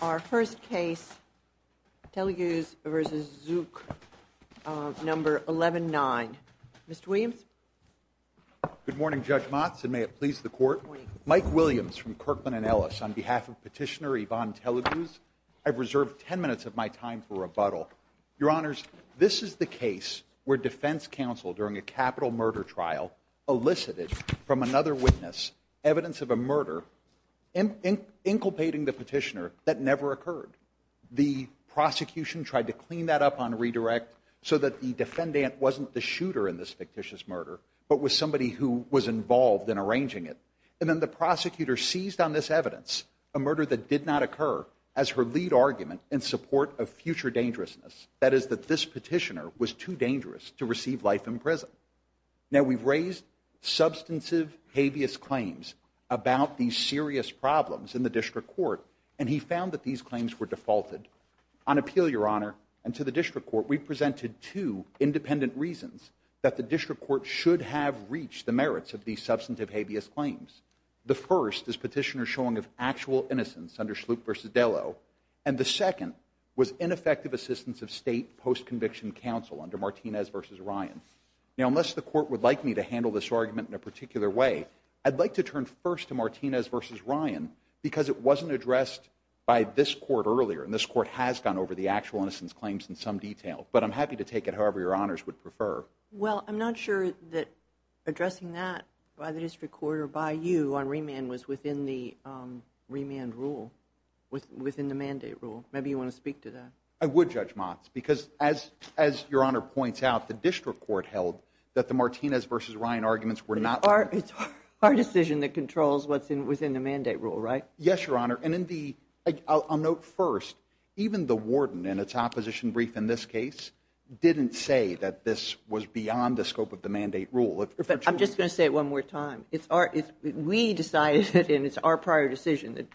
Our first case, Teleguz v. Zook, number 11-9. Mr. Williams? Good morning, Judge Motts, and may it please the Court? Mike Williams from Kirkland & Ellis. On behalf of Petitioner Yvonne Teleguz, I've reserved ten minutes of my time for rebuttal. Your Honors, this is the case where Defense Counsel, during a capital murder trial, elicited from another witness evidence of a murder, inculpating the petitioner, that never occurred. The prosecution tried to clean that up on redirect so that the defendant wasn't the shooter in this fictitious murder, but was somebody who was involved in arranging it. And then the prosecutor seized on this evidence, a murder that did not occur, as her lead argument in support of future dangerousness, that is that this petitioner was too dangerous to receive life in prison. Now, we've raised substantive habeas claims about these serious problems in the District Court, and he found that these claims were defaulted. On appeal, Your Honor, and to the District Court, we've presented two independent reasons that the District Court should have reached the merits of these substantive habeas claims. The first is petitioner's showing of actual innocence under Sloop v. Dello, and the second was ineffective assistance of state post-conviction counsel under Martinez v. Ryan. Now, unless the court would like me to handle this argument in a particular way, I'd like to turn first to Martinez v. Ryan, because it wasn't addressed by this court earlier, and this court has gone over the actual innocence claims in some detail, but I'm happy to take it however Your Honors would prefer. Well, I'm not sure that addressing that by the District Court or by you on remand was within the remand rule, within the mandate rule. Maybe you want to speak to that. I would, Judge Motz, because as Your Honor points out, the District Court held that the Martinez v. Ryan arguments were not... It's our decision that controls what's within the mandate rule, right? Yes, Your Honor, and indeed, I'll note first, even the warden in its opposition brief in this case didn't say that this was beyond the scope of the mandate rule. I'm just going to say it one more time. We decided, and it's our prior decision that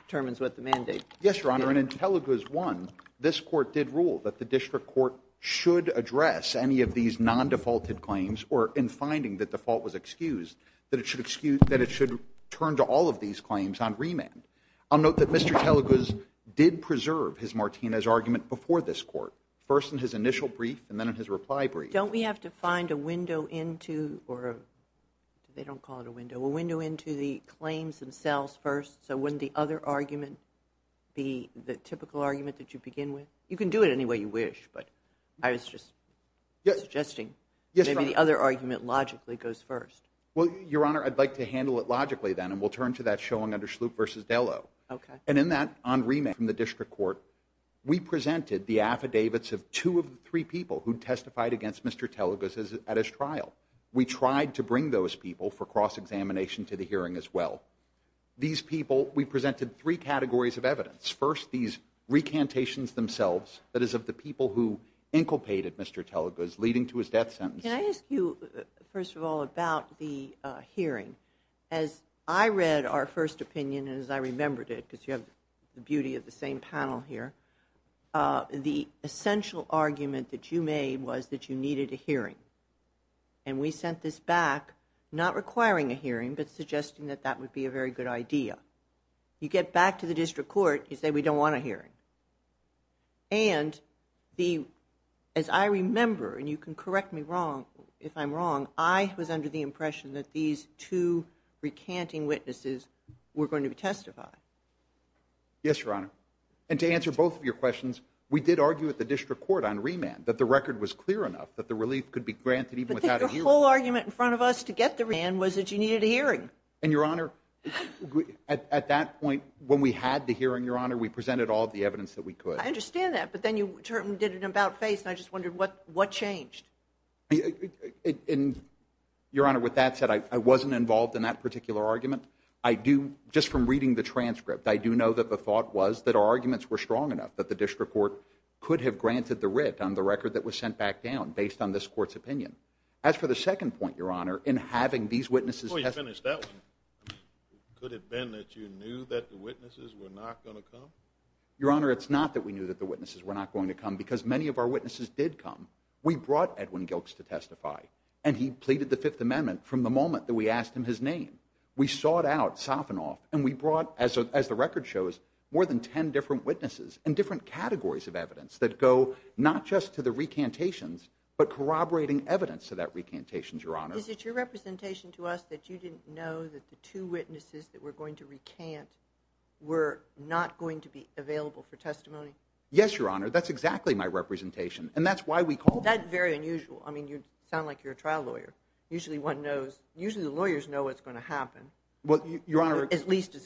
this court did rule that the District Court should address any of these non-defaulted claims, or in finding that the fault was excused, that it should turn to all of these claims on remand. I'll note that Mr. Teleguz did preserve his Martinez argument before this court, first in his initial brief, and then in his reply brief. Don't we have to find a window into, or they don't call it a window, a window into the You can do it any way you wish, but I was just suggesting maybe the other argument logically goes first. Well, Your Honor, I'd like to handle it logically then, and we'll turn to that showing under Schlup versus Bellow. And in that on remand in the District Court, we presented the affidavits of two of the three people who testified against Mr. Teleguz at his trial. We tried to bring those people for cross-examination to the hearing as well. These people, we presented three categories of evidence. First, these recantations themselves, that is of the people who inculcated Mr. Teleguz, leading to his death sentence. Can I ask you, first of all, about the hearing? As I read our first opinion, and as I remembered it, because you have the beauty of the same panel here, the essential argument that you made was that you needed a hearing. And we sent this back, not requiring a hearing, but suggesting that that would be a very good idea. You get back to the District Court, you say, we don't want a hearing. And as I remember, and you can correct me wrong if I'm wrong, I was under the impression that these two recanting witnesses were going to testify. Yes, Your Honor. And to answer both of your questions, we did argue at the District Court on remand that the record was clear enough that the relief could be granted even without a hearing. I think the whole argument in front of us to get the remand was that you needed a hearing. And, Your Honor, at that point, when we had the hearing, Your Honor, we presented all the evidence that we could. I understand that, but then you certainly did it in about faith, and I just wondered what changed? And, Your Honor, with that said, I wasn't involved in that particular argument. I do, just from reading the transcript, I do know that the thought was that our arguments were strong enough that the District Court could have granted the writ on the record that was sent back down based on this Court's opinion. As for the second point, Your Honor, in having these witnesses testify. Before you finish that one, could it have been that you knew that the witnesses were not going to come? Your Honor, it's not that we knew that the witnesses were not going to come, because many of our witnesses did come. We brought Edwin Gilch to testify, and he pleaded the Fifth Amendment from the moment that we asked him his name. We sought out Sophinoff, and we brought, as the record shows, more than 10 different witnesses and different categories of evidence that go not just to the recantations, but corroborating evidence to that recantation, Your Honor. Is it your representation to us that you didn't know that the two witnesses that were going to recant were not going to be available for testimony? Yes, Your Honor, that's exactly my representation, and that's why we called. That's very unusual. I mean, you sound like you're a trial lawyer. Usually one knows, usually the lawyers know what's going to happen. Well, Your Honor. At least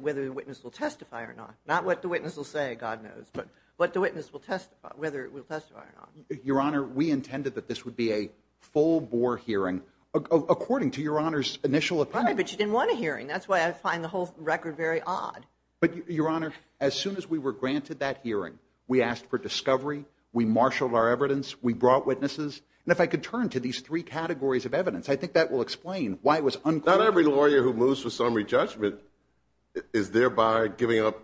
whether the witness will testify or not. Not what the witness will say, God knows, but what the witness will testify, whether it will testify or not. Your Honor, we intended that this would be a full-bore hearing, according to Your Honor's initial attempt. Okay, but you didn't want a hearing. That's why I find the whole record very odd. But Your Honor, as soon as we were granted that hearing, we asked for discovery, we marshaled our evidence, we brought witnesses, and if I could turn to these three categories of evidence, I think that will explain why it was unclear. Not every lawyer who moves to summary judgment is thereby giving up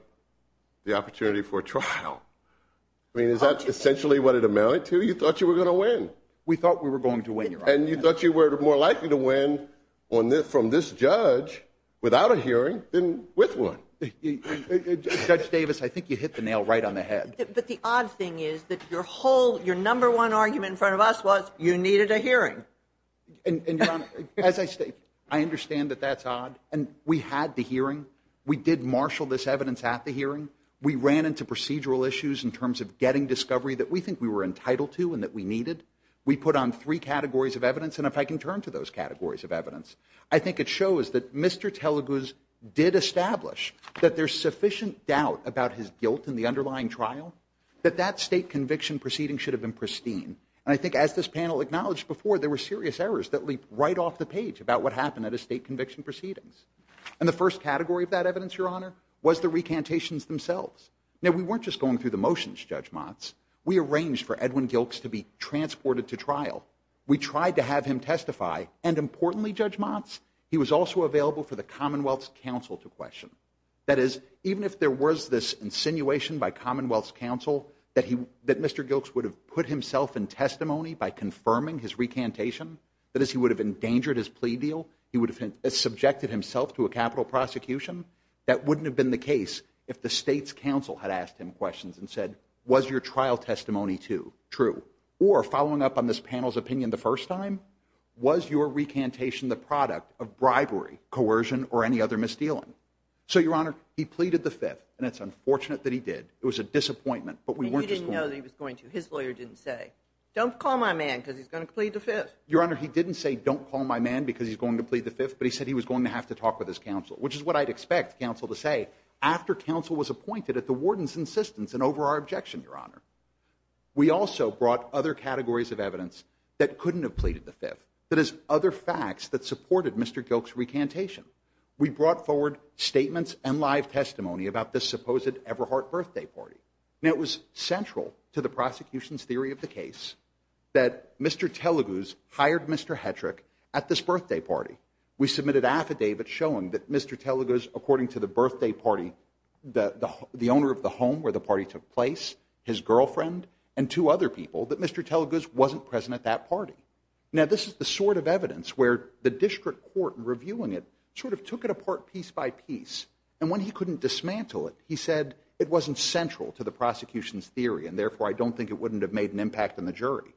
the opportunity for trial. I mean, is that essentially what it amounted to? You thought you were going to win. We thought we were going to win, Your Honor. And you thought you were more likely to win from this judge without a hearing than with one. Judge Davis, I think you hit the nail right on the head. But the odd thing is that your whole, your number one argument in front of us was you needed a hearing. And Your Honor, as I say, I understand that that's odd. And we had the hearing. We did marshal this evidence at the hearing. We ran into procedural issues in terms of getting discovery that we think we were entitled to and that we needed. We put on three categories of evidence. And if I can turn to those categories of evidence, I think it shows that Mr. Teleguz did establish that there's sufficient doubt about his guilt in the underlying trial that that state conviction proceeding should have been pristine. And I think as this panel acknowledged before, there were serious errors that leaped right off the page about what happened at a state conviction proceedings. And the first category of that evidence, Your Honor, was the recantations themselves. Now, we weren't just going through the motions, Judge Motz. We arranged for Edwin Gilkes to be transported to trial. We tried to have him testify. And importantly, Judge Motz, he was also available for the Commonwealth's counsel to question. That is, even if there was this insinuation by Commonwealth's counsel that Mr. Gilkes would have put himself in testimony by confirming his recantation, that is, he would have endangered his plea deal, he would have subjected himself to a capital prosecution, that wouldn't have been the case if the state's counsel had asked him questions and said, was your trial testimony true? Or, following up on this panel's opinion the first time, was your recantation the product of bribery, coercion, or any other misdealing? So, Your Honor, he pleaded the Fifth, and it's unfortunate that he did. It was a disappointment, but we weren't just going to. He didn't know that he was going to. His lawyer didn't say, don't call my man because he's going to plead the Fifth. Your Honor, he didn't say, don't call my man because he's going to plead the Fifth, but he said he was going to have to talk with his counsel, which is what I'd expect counsel to say after counsel was appointed at the warden's insistence and over our objection, Your Honor. We also brought other categories of evidence that couldn't have pleaded the Fifth. That is, other facts that supported Mr. Gilkes' recantation. We brought forward statements and live testimony about this supposed Eberhardt birthday party. And it was central to the hired Mr. Hetrick at this birthday party. We submitted affidavits showing that Mr. Telugu's, according to the birthday party, the owner of the home where the party took place, his girlfriend, and two other people, that Mr. Telugu's wasn't present at that party. Now, this is the sort of evidence where the district court reviewing it sort of took it apart piece by piece. And when he couldn't dismantle it, he said it wasn't central to the prosecution's theory. And therefore, I don't think it wouldn't have made an impact on the jury.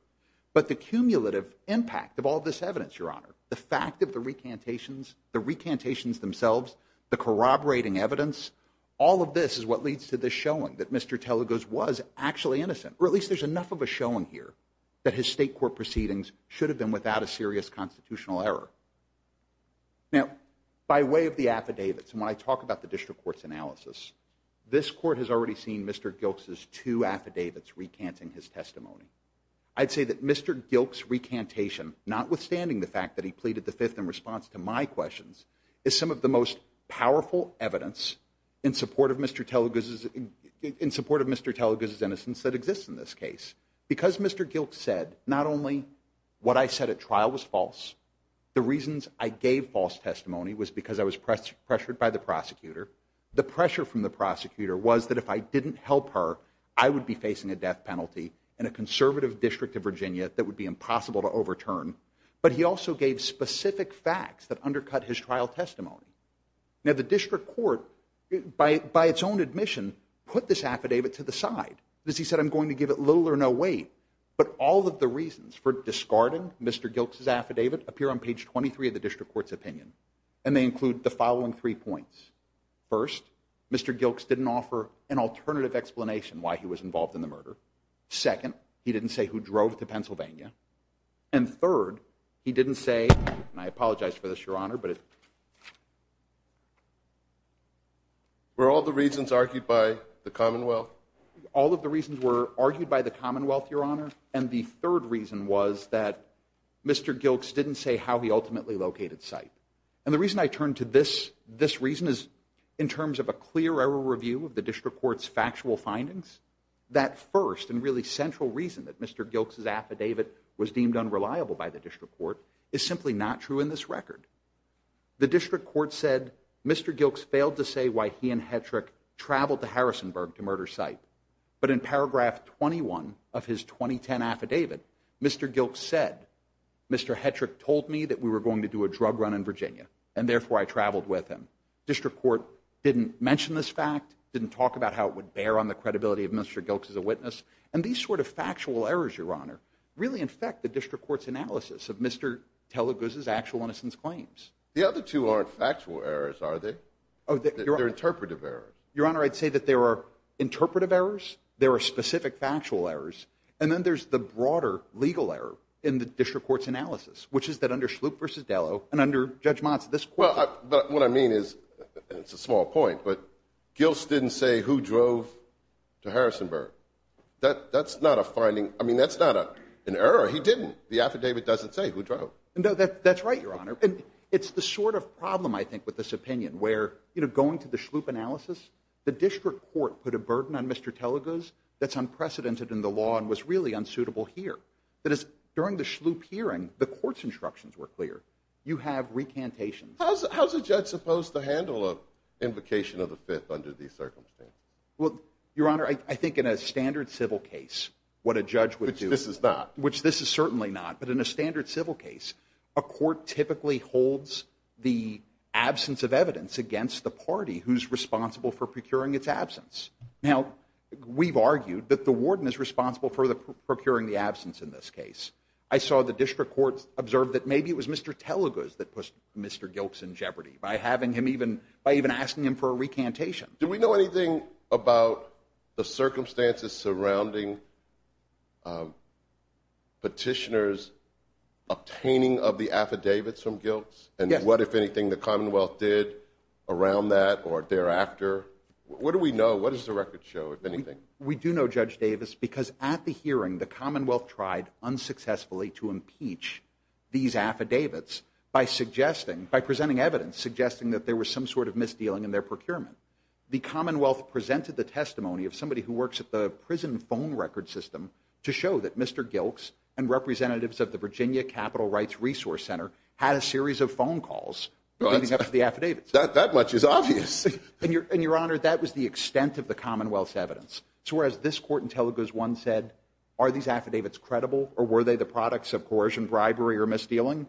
But the cumulative impact of all this evidence, Your Honor, the fact of the recantations, the recantations themselves, the corroborating evidence, all of this is what leads to the showing that Mr. Telugu's was actually innocent. Or at least there's enough of a showing here that his state court proceedings should have been without a serious constitutional error. Now, by way of the affidavits, and when I talk about the district court's analysis, this court has already seen Mr. Gilkes' two affidavits recanting his testimony. I'd say that Mr. Gilkes' recantation, notwithstanding the fact that he pleaded the fifth in response to my questions, is some of the most powerful evidence in support of Mr. Telugu's innocence that exists in this case. Because Mr. Gilkes said not only what I said at trial was false, the reasons I gave false testimony was because I was pressured by the prosecutor. The pressure from the prosecutor was that if I didn't help her, I would be facing a death penalty in a conservative district of Virginia that would be impossible to overturn. But he also gave specific facts that undercut his trial testimony. Now, the district court, by its own admission, put this affidavit to the side. He said, I'm going to give it little or no weight. But all of the reasons for discarding Mr. Gilkes' affidavit appear on page 23 of the district court's opinion. And they include the following three points. First, Mr. Gilkes didn't offer an alternative explanation why he was involved in the murder. Second, he didn't say who drove to Pennsylvania. And third, he didn't say, and I apologize for this, Your Honor, but Were all the reasons argued by the Commonwealth? All of the reasons were argued by the Commonwealth, Your Honor. And the third reason was that Mr. Gilkes didn't say how he ultimately located site. And the reason I turned to this reason is in terms of a clear error review of the district court's factual findings, that first and really central reason that Mr. Gilkes' affidavit was deemed unreliable by the district court is simply not true in this record. The district court said, Mr. Gilkes failed to say why he and Hetrick traveled to Harrisonburg to murder site. But in paragraph 21 of his 2010 affidavit, Mr. Gilkes said, Mr. Hetrick told me that we were going to do a drug run in Virginia, and therefore I traveled with him. District court didn't mention this fact, didn't talk about how it would bear on the credibility of Mr. Gilkes as a witness. And these sort of factual errors, Your Honor, really affect the district court's analysis of Mr. Teleguz's actual innocence claims. The other two aren't factual errors, are they? They're interpretive errors. Your Honor, I'd say that there are interpretive errors, there are specific factual errors, and then there's the broader legal error in the district court's analysis, which is that under Schlup versus Dallow, and under Judge Mons, this court- But what I mean is, and it's a small point, but Gilkes didn't say who drove to Harrisonburg. That's not a finding. I mean, that's not an error. He didn't. The affidavit doesn't say who drove. That's right, Your Honor. It's the sort of problem, I think, with this opinion where, you know, going to the Schlup analysis, the district court put a burden on Mr. Teleguz that's unprecedented in the law and was really unsuitable here. During the Schlup hearing, the court's instructions were clear. You have recantations. How's a judge supposed to handle an invocation of the Fifth under these circumstances? Well, Your Honor, I think in a standard civil case, what a judge would do- Which this is not. Which this is certainly not, but in a standard civil case, a court typically holds the absence of evidence against the party who's responsible for procuring its absence. Now, we've argued that the warden is responsible for the procuring the absence in this case. I saw the district court observe that maybe it was Mr. Teleguz that pushed Mr. Gilkes in jeopardy by having him even- by even asking him for a recantation. Do we know anything about the circumstances surrounding petitioners obtaining of the affidavits from Gilkes and what, if anything, the Commonwealth did around that or thereafter? What do we know? What does the record show, if anything? We do know, Judge Davis, because at the hearing, the Commonwealth tried unsuccessfully to impeach these affidavits by suggesting- by presenting evidence suggesting that there was some sort of misdealing in their procurement. The Commonwealth presented the testimony of somebody who works at the prison phone record system to show that Mr. Gilkes and representatives of the Virginia Capital Rights Resource Center had a series of phone calls leading up to the affidavits. That much is obvious. And, Your Honor, that was the extent of the Commonwealth's evidence. So, whereas this court in Teleguz 1 said, are these affidavits credible or were they the products of coercion, bribery, or misdealing?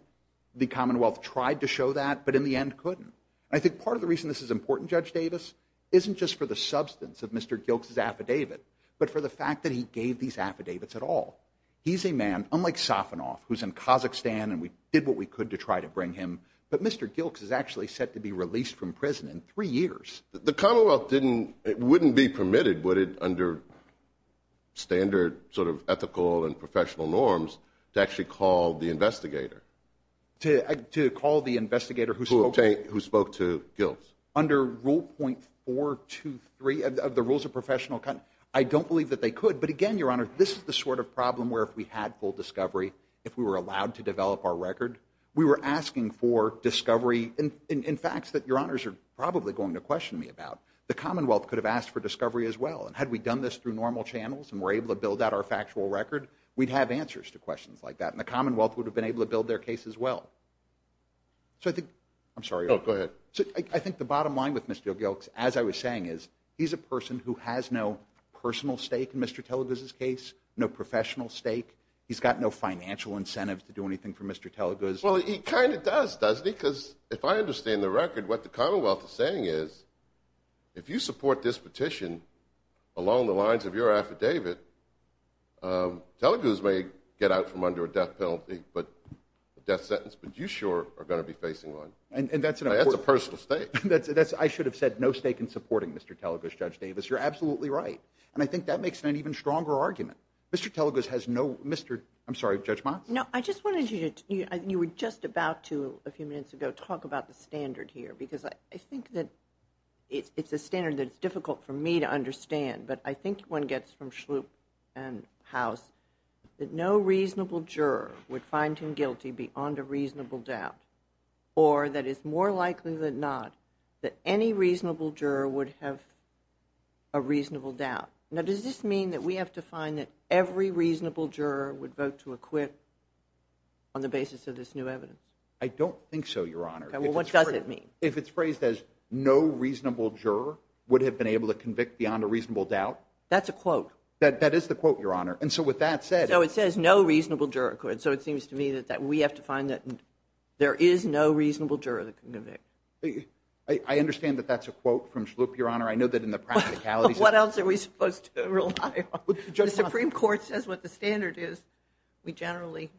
The Commonwealth tried to show that, but in the end couldn't. I think part of the reason this is important, Judge Davis, isn't just for the substance of Mr. Gilkes' affidavit, but for the fact that he gave these affidavits at all. He's a man, unlike Safanov, who's in Kazakhstan and we did what we could to try to bring him, but Mr. Gilkes is actually set to be released from prison in three years. The Commonwealth didn't, it wouldn't be permitted, would it, under standard sort of ethical and professional norms to actually call the investigator? To call the investigator who spoke to Gilkes. Under Rule .423 of the Rules of Professional Accounts, I don't believe that they could, but again, Your Honor, this is the sort of problem where if we had full discovery, if we were allowed to develop our record, we were asking for discovery. In fact, that Your Honors are probably going to question me about. The Commonwealth could have asked for discovery as well, and had we done this through normal channels and were able to build out our factual record, we'd have answers to questions like that, and the Commonwealth would have been able to build their case as well. I'm sorry. Go ahead. I think the bottom line with Mr. Gilkes, as I was saying, is he's a person who has no professional stake. He's got no financial incentives to do anything for Mr. Teleguz. Well, he kind of does, doesn't he? Because if I understand the record, what the Commonwealth is saying is, if you support this petition along the lines of your affidavit, Teleguz may get out from under a death penalty, a death sentence, but you sure are going to be facing one. That's a personal stake. I should have said no stake in supporting Mr. Teleguz, Judge Davis. You're absolutely right, and I think that makes an even stronger argument. Mr. Teleguz has no... Mr... I'm sorry, Judge Ma? No, I just wanted you to... You were just about to, a few minutes ago, talk about the standard here, because I think that it's the standard that's difficult for me to understand, but I think one gets from Schlup and House that no reasonable juror would find him guilty beyond a reasonable doubt, or that it's more likely than not that any reasonable juror would have a reasonable doubt. Now, does this mean that we have to find that every reasonable juror would vote to acquit on the basis of this new evidence? I don't think so, Your Honor. Well, what does it mean? If it's phrased as no reasonable juror would have been able to convict beyond a reasonable doubt... That's a quote. That is the quote, Your Honor, and so with that said... No, it says no reasonable juror could, so it seems to me that we have to find that there is no reasonable juror that can convict. I understand that that's a quote from Schlup, Your Honor. I know that in the practicalities... What else are we supposed to rely on? The Supreme Court says what the standard is, we generally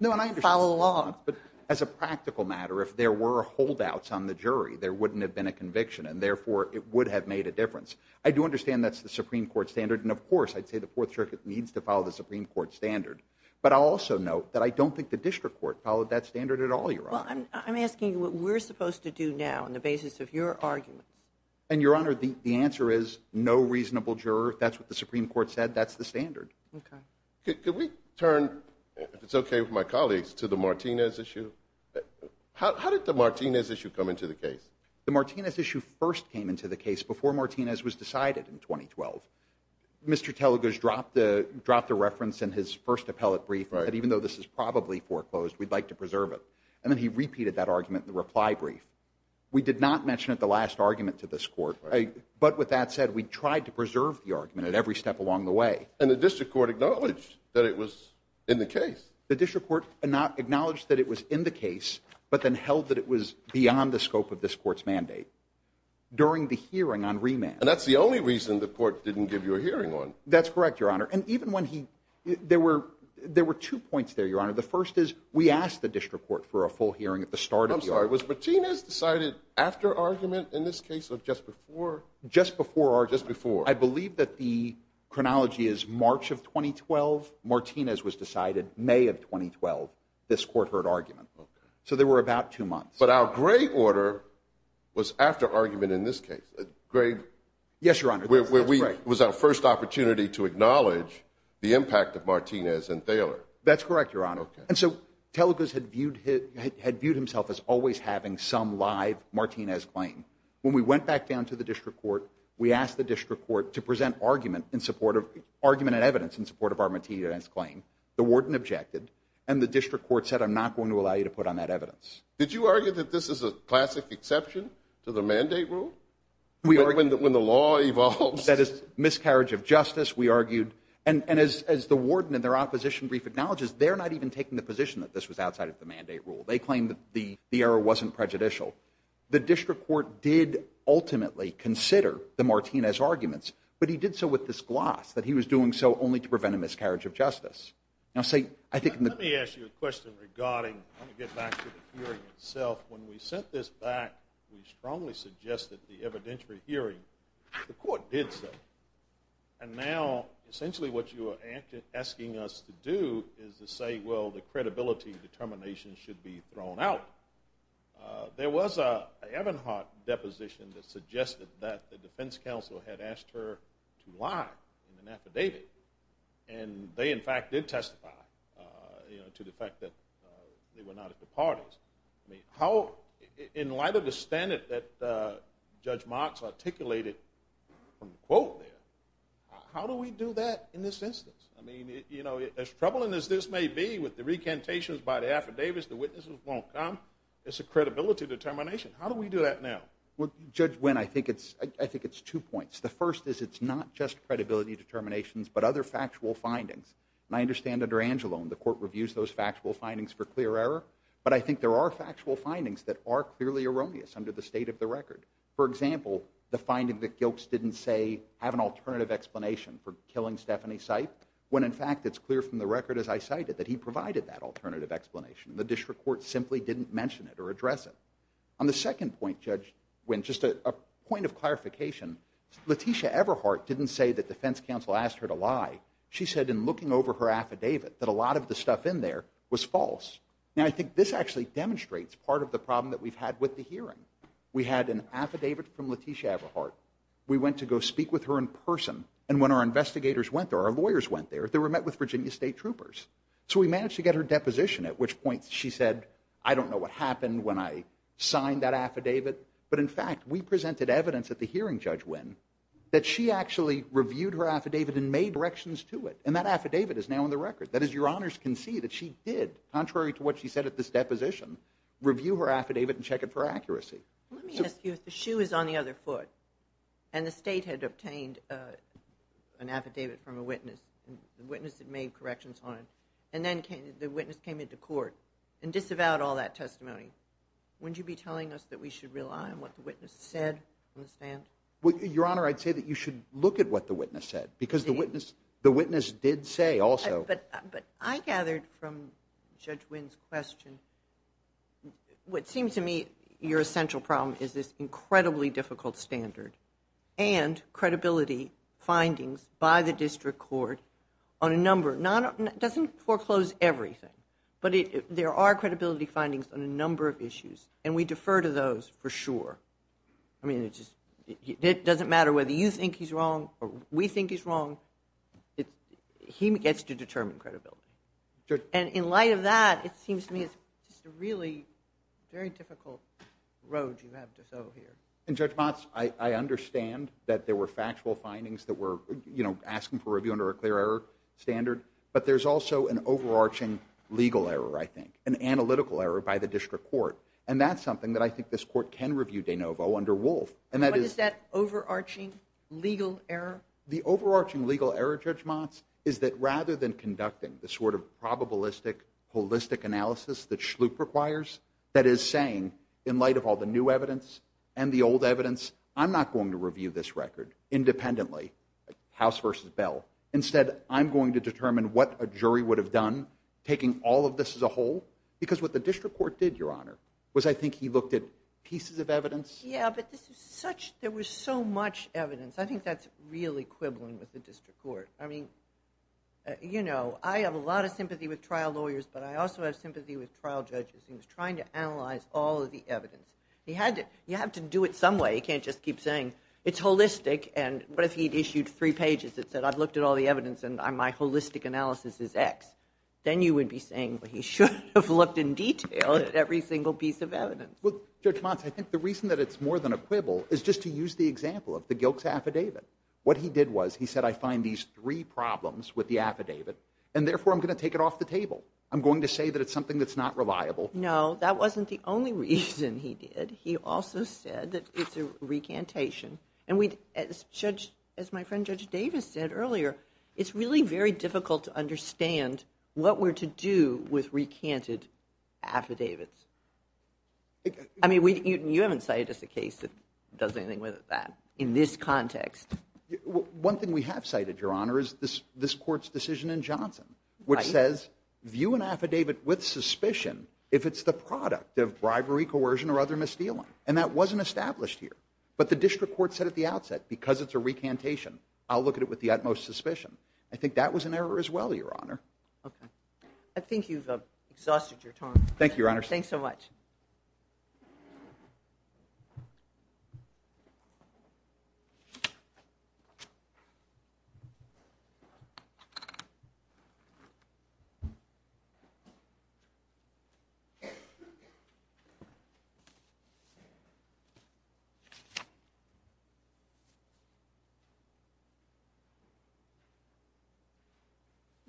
follow along. No, and I understand that, but as a practical matter, if there were holdouts on the jury, there wouldn't have been a conviction, and therefore, it would have made a difference. I do understand that's the Supreme Court standard, and of course, I'd say the Fourth Circuit needs to follow the Supreme Court standard, but I'll also note that I don't think the District Court followed that standard at all, Your Honor. I'm asking what we're supposed to do now on the basis of your argument. And, Your Honor, the answer is no reasonable juror. If that's what the Supreme Court said, that's the standard. Okay. Can we turn, if it's okay with my colleagues, to the Martinez issue? How did the Martinez issue come into the case? The Martinez issue first came into the case before Martinez was decided in 2012. Mr. Teliger's dropped the reference in his first appellate brief that even though this is probably foreclosed, we'd like to preserve it, and then he repeated that argument in the reply brief. We did not mention it in the last argument to this Court, but with that said, we tried to preserve the argument at every step along the way. And the District Court acknowledged that it was in the case. The District Court acknowledged that it was in the case, but then held that it was beyond the scope of this Court's mandate during the hearing on remand. And that's the only reason the Court didn't give you a hearing on it. That's correct, Your Honor. There were two points there, Your Honor. The first is we asked the District Court for a full hearing at the start of the argument. Was Martinez decided after argument in this case or just before? Just before argument. Just before. I believe that the chronology is March of 2012. Martinez was decided May of 2012. This Court heard argument. So there were about two months. Yes, Your Honor. It was our first opportunity to acknowledge the impact of Martinez and Thaler. That's correct, Your Honor. And so Telgus had viewed himself as always having some live Martinez claim. When we went back down to the District Court, we asked the District Court to present argument and evidence in support of our Martinez claim. The warden objected, and the District Court said, I'm not going to allow you to put on that evidence. Did you argue that this is a classic exception to the mandate rule? When the law evolves. That is miscarriage of justice, we argued. And as the warden in their opposition brief acknowledges, they're not even taking the position that this was outside of the mandate rule. They claimed the error wasn't prejudicial. The District Court did ultimately consider the Martinez arguments, but he did so with this gloss that he was doing so only to prevent a miscarriage of justice. Now, say, I think in the- Let me ask you a question regarding, let me get back to the hearing itself. When we sent this back, we strongly suggested the evidentiary hearing. The court did so. And now, essentially what you are asking us to do is to say, well, the credibility determination should be thrown out. There was an Ebenhardt deposition that suggested that the defense counsel had asked her to lie and affidavit. And they in fact did testify to the fact that they were not at the parties. How, in light of the standard that Judge Motz articulated from the quote there, how do we do that in this instance? I mean, as troubling as this may be with the recantations by the affidavits, the witnesses won't come. It's a credibility determination. How do we do that now? Well, Judge Wynn, I think it's two points. The first is it's not just credibility determinations, but other factual findings. And I understand under Angelone, the court reviews those factual findings for clear error. But I think there are factual findings that are clearly erroneous under the state of the record. For example, the finding that Gilks didn't say have an alternative explanation for killing Stephanie Seif, when in fact it's clear from the record as I cited that he provided that alternative explanation. The district court simply didn't mention it or address it. On the second point, Judge Wynn, just a point of clarification, Letitia Eberhardt didn't say that defense counsel asked her to lie. She said in was false. And I think this actually demonstrates part of the problem that we've had with the hearing. We had an affidavit from Letitia Eberhardt. We went to go speak with her in person. And when our investigators went there, our lawyers went there, they were met with Virginia State troopers. So we managed to get her deposition, at which point she said, I don't know what happened when I signed that affidavit. But in fact, we presented evidence at the hearing, Judge Wynn, that she actually reviewed her affidavit and made corrections to it. And that affidavit is now on the contrary to what she said at this deposition, review her affidavit and check it for accuracy. Let me ask you, the shoe is on the other foot. And the state had obtained an affidavit from a witness. The witness had made corrections on it. And then the witness came into court and disavowed all that testimony. Wouldn't you be telling us that we should rely on what the witness said? Your Honor, I'd say that you should look at what the witness said, because the witness did say also. But I gathered from Judge Wynn's question, what seems to me your essential problem is this incredibly difficult standard and credibility findings by the district court on a number, doesn't foreclose everything, but there are credibility findings on a number of issues. And we defer to those for sure. I mean, it doesn't matter whether you think he's wrong or we think he's wrong. He gets to determine credibility. And in light of that, it seems to me it's a really very difficult road you have to go here. And Judge Motz, I understand that there were factual findings that were asking for review under a clear error standard, but there's also an overarching legal error, I think, an analytical error by the district court. And that's something that I think this court can review de novo under Wolf. And that is that overarching legal error. The overarching legal error, Judge Motz, is that rather than conducting the sort of probabilistic, holistic analysis that Schlup requires, that is saying, in light of all the new evidence and the old evidence, I'm not going to review this record independently, House versus Bell. Instead, I'm going to determine what a jury would have done, taking all of this as a whole. Because what the district court did, Your Honor, was I think he looked at pieces of evidence. Yeah, but there was so much evidence. I think that's real equivalent with the district court. I mean, you know, I have a lot of sympathy with trial lawyers, but I also have sympathy with trial judges. He was trying to analyze all of the evidence. You have to do it some way. You can't just keep saying, it's holistic. But if he'd issued three pages that said, I've looked at all the evidence and my holistic analysis is X, then you would be saying that he should have looked in detail at every single piece of evidence. Well, Judge Motz, I think the reason that it's more than a quibble is just to use the example of the Gilkes affidavit. What he did was he said, I find these three problems with the affidavit, and therefore I'm going to take it off the table. I'm going to say that it's something that's not reliable. No, that wasn't the only reason he did. He also said that it's a recantation. And as my friend Judge Davis said earlier, it's really very difficult to understand what we're to do with recanted affidavits. I mean, you haven't cited just a case that does anything with that in this context. One thing we have cited, Your Honor, is this court's decision in Johnson, which says, view an affidavit with suspicion if it's the product of bribery, coercion, or other misdealing. And that wasn't established here. But the district court said at the outset, because it's a recantation, I'll look at it with the utmost suspicion. I think that was an error as well, Your Honor. Okay. I think you've exhausted your time. Thank you, Your Honor. Thanks so much.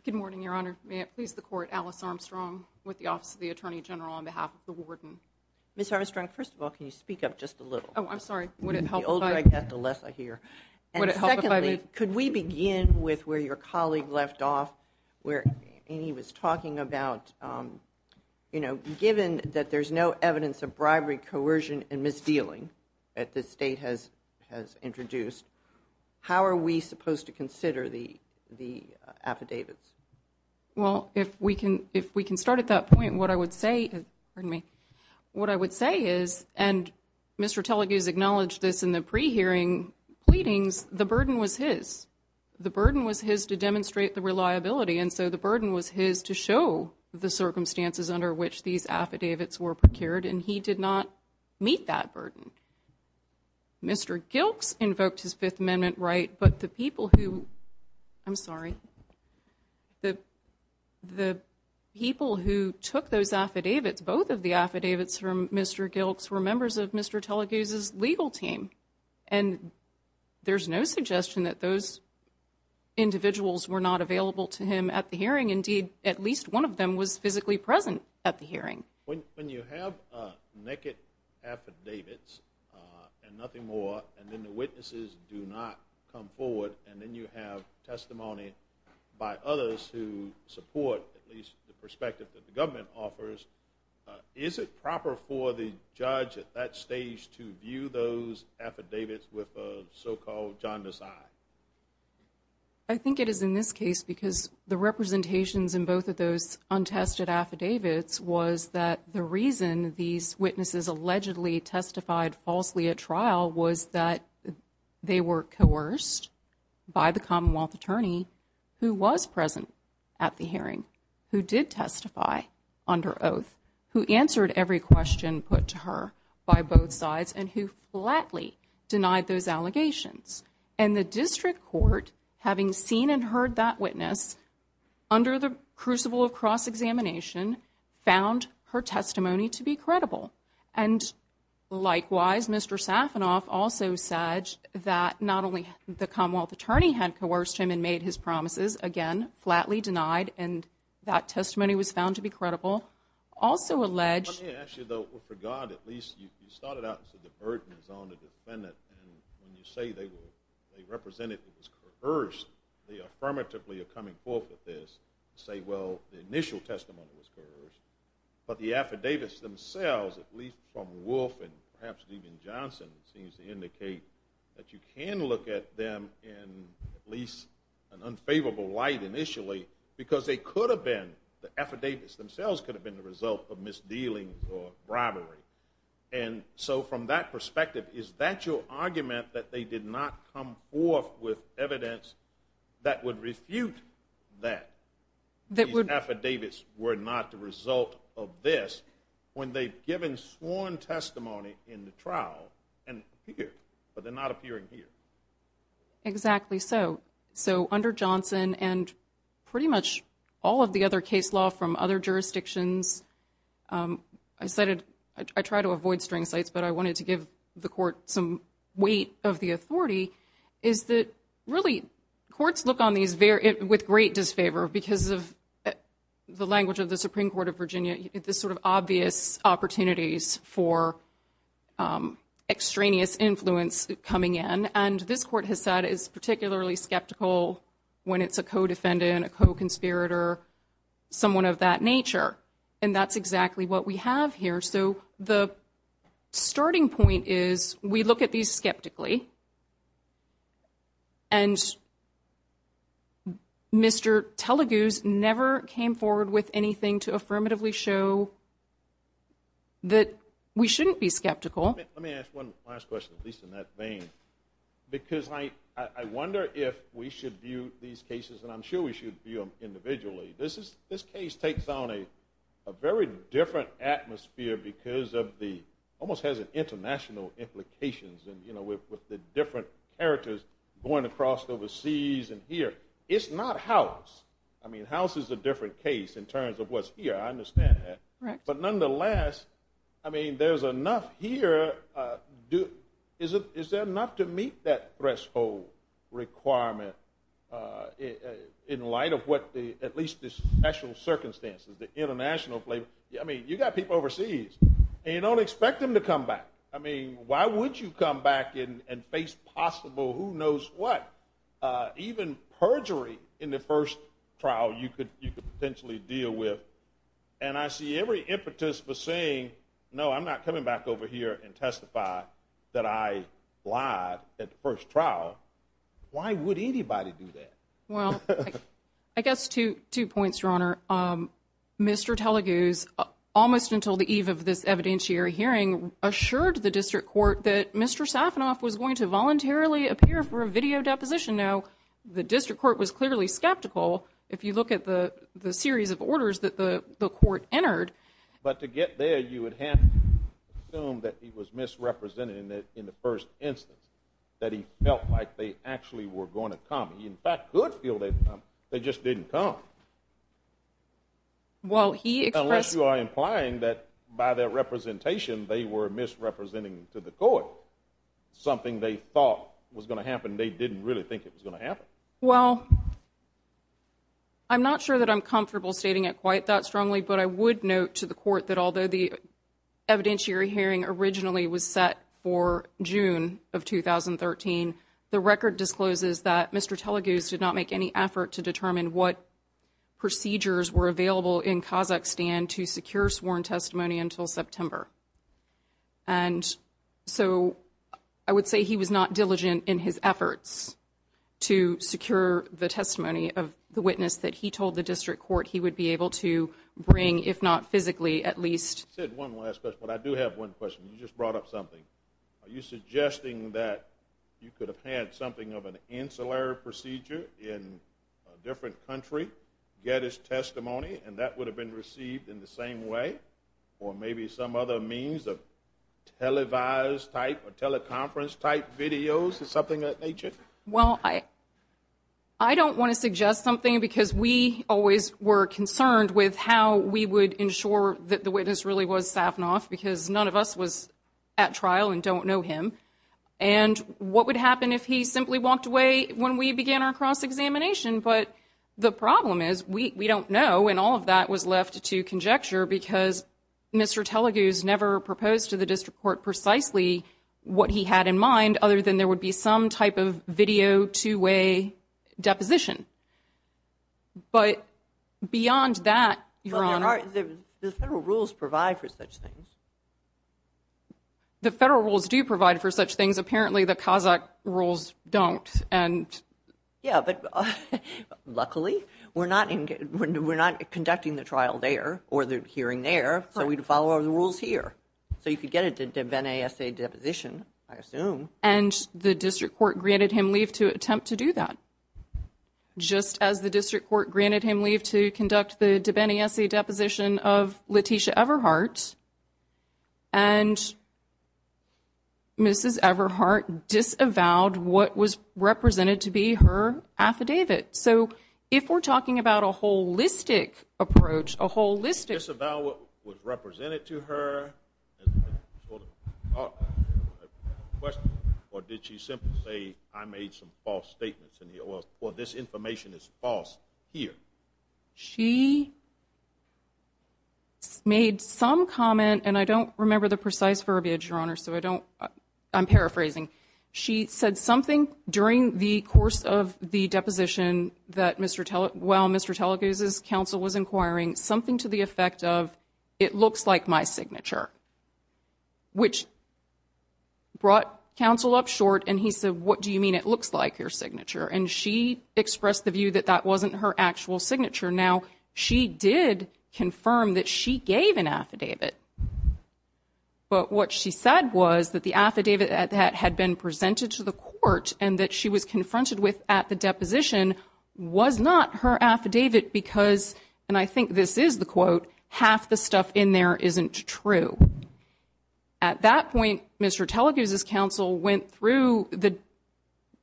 Good morning, Your Honor. May it please the court, Alice Armstrong with the Office of the Attorney General on behalf of the warden. Ms. Armstrong, first of all, can you speak up just a little? Oh, I'm sorry. Would it help if I- The old drag, Beth Alessa here. Would it help if I- And secondly, could we begin with where your colleague left off, where he was talking about, you know, given that there's no evidence of bribery, coercion, and misdealing that the state has introduced, how are we supposed to consider the affidavits? Well, if we can start at that point, what I would say is- Pardon me. What I would say is, and Mr. Tellegate has acknowledged this in the pre-hearing pleadings, the burden was his. The burden was his to demonstrate the reliability. And so the burden was his to show the circumstances under which these affidavits were procured, and he did not meet that burden. Mr. Gilks invoked his Fifth Amendment right, but the people who- I'm sorry. The people who took those affidavits, both of the affidavits from Mr. Gilks were members of Mr. Tellegate's legal team. And there's no suggestion that those individuals were not available to him at the hearing. Indeed, at least one of them was physically present at the hearing. When you have naked affidavits and nothing more, and then the witnesses do not come forward, and then you have testimony by others who support at least the perspective that the government offers, is it proper for the judge at that stage to view those affidavits with a so-called judge's eye? I think it is in this case because the representations in both of those untested affidavits was that the reason these witnesses allegedly testified falsely at trial was that they were coerced by the Commonwealth attorney who was present at the hearing, who did testify under oath, who answered every question put to her by both sides, and who flatly denied those affidavits. And the district court, having seen and heard that witness under the crucible of cross-examination, found her testimony to be credible. And likewise, Mr. Safanoff also said that not only the Commonwealth attorney had coerced him and made his promises, again, flatly denied, and that testimony was found to be credible, also alleged... Actually, though, for God, at least you started out as a divergent on the defendant. When you say they were represented as coerced, they affirmatively are coming forth with this to say, well, the initial testimony was coerced. But the affidavits themselves, at least from Wolf and perhaps even Johnson, seems to indicate that you can look at them in at least an unfavorable light initially, because they could have been, the affidavits themselves could have been the bribery. And so from that perspective, is that your argument that they did not come forth with evidence that would refute that the affidavits were not the result of this when they've given sworn testimony in the trial and appeared, but they're not appearing here? Exactly so. So under Johnson and pretty much all of the other case law from other jurisdictions, I try to avoid string sites, but I wanted to give the court some weight of the authority, is that really courts look on these with great disfavor because of the language of the Supreme Court of Virginia, this sort of obvious opportunities for extraneous influence coming in. And this court has said is particularly skeptical when it's a co-defendant, a co-conspirator, someone of that nature. And that's exactly what we have here. So the starting point is we look at these skeptically and Mr. Telugu's never came forward with anything to affirmatively show that we shouldn't be skeptical. Let me ask one last question, at least in that vein, because I wonder if we should view these cases, and I'm sure we should view them individually. This case takes on a very different atmosphere because of the almost has an international implications and with the different characters going across overseas and here. It's not house. I mean, house is a different case in terms of what's here. I understand that. But nonetheless, I mean, there's enough here. Is there enough to meet that threshold requirement in light of what the, at least the special circumstances, the international play? I mean, you got people overseas and you don't expect them to come back. I mean, why would you come back and face possible who knows what, even perjury in the first trial you could potentially deal with. And I see every participant saying, no, I'm not coming back over here and testify that I lied at the first trial. Why would anybody do that? Well, I guess two points, Your Honor. Mr. Telugu's almost until the eve of this evidentiary hearing assured the district court that Mr. Safanoff was going to voluntarily appear for a video deposition. Now, the district court was clearly skeptical. If you to get there, you would have assumed that he was misrepresented in the first instance, that he felt like they actually were going to come. He, in fact, could feel that they just didn't come. Well, he expressed- Unless you are implying that by their representation, they were misrepresenting to the court something they thought was going to happen. They didn't really think it was going to happen. Well, I'm not sure that I'm comfortable stating it quite that strongly, but I would note to the court that although the evidentiary hearing originally was set for June of 2013, the record discloses that Mr. Telugu did not make any effort to determine what procedures were available in Kazakhstan to secure sworn testimony until September. And so I would say he was not diligent in his efforts to secure the testimony of the witness that he told the district court he would be able to bring, if not physically, at least- I said one last question, but I do have one question. You just brought up something. Are you suggesting that you could have had something of an ancillary procedure in a different country, get his testimony, and that would have been received in the same way? Or maybe some other means of televised type or teleconference type videos or something of that nature? Well, I don't want to suggest something, because we always were concerned with how we would ensure that the witness really was Savnos, because none of us was at trial and don't know him. And what would happen if he simply walked away when we began our cross-examination? But the problem is, we don't know, and all of that was left to conjecture, because Mr. Telugu's never proposed to the district court precisely what he had in mind, other than there would be some type of video, two-way deposition. But beyond that- Well, the federal rules provide for such things. The federal rules do provide for such things. Apparently, the Kazakh rules don't, and- Yeah, but luckily, we're not conducting the trial there, or the hearing there, so we'd follow the rules here. So you could get a de bene assay deposition, I assume. And the district court granted him leave to attempt to do that, just as the district court granted him leave to conduct the de bene assay deposition of Letitia Everhart, and Mrs. Everhart disavowed what was represented to be her affidavit. So if we're talking about a holistic approach, a holistic- She disavowed what was represented to her, or did she simply say, I made some false statements in the oil, or this information is false here? She made some comment, and I don't remember the precise verbiage, Your Honor, so I don't- I'm paraphrasing. She said something during the course of the deposition that, while Mr. Teleguz's counsel was inquiring, something to the effect of, it looks like my signature, which brought counsel up short, and he said, what do you mean it looks like your signature? And she expressed the view that that wasn't her actual signature. Now, she did confirm that she gave an affidavit, but what she said was that the affidavit that had been presented to the court was not her affidavit because, and I think this is the quote, half the stuff in there isn't true. At that point, Mr. Teleguz's counsel went through the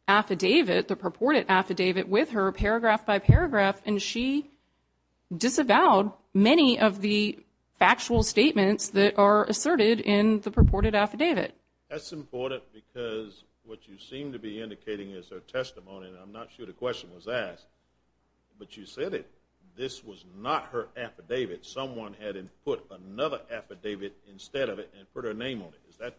affidavit, the purported affidavit, with her, paragraph by paragraph, and she disavowed many of the actual statements that are asserted in the purported affidavit. That's important because what you seem to be indicating is her testimony, and I'm not sure the question was asked, but you said it, this was not her affidavit. Someone had put another affidavit instead of it and put her name on it. Is that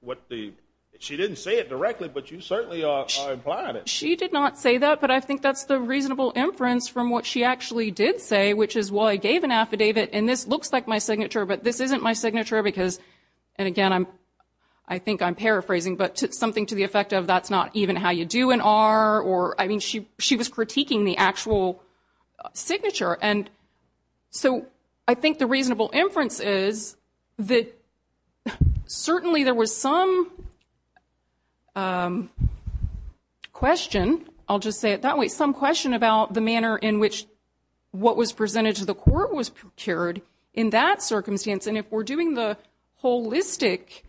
what the- she didn't say it directly, but you certainly are a part of it. She did not say that, but I think that's the reasonable inference from what she actually did say, which is, well, I gave an affidavit, and this looks like my signature, but this isn't my signature because, and again, I think I'm paraphrasing, but something to the effect of, that's not even how you do an R, or, I mean, she was critiquing the actual signature, and so I think the reasonable inference is that certainly there was some question, I'll just say it that way, some question about the manner in which what was presented to the court was procured in that circumstance, and if we're doing the holistic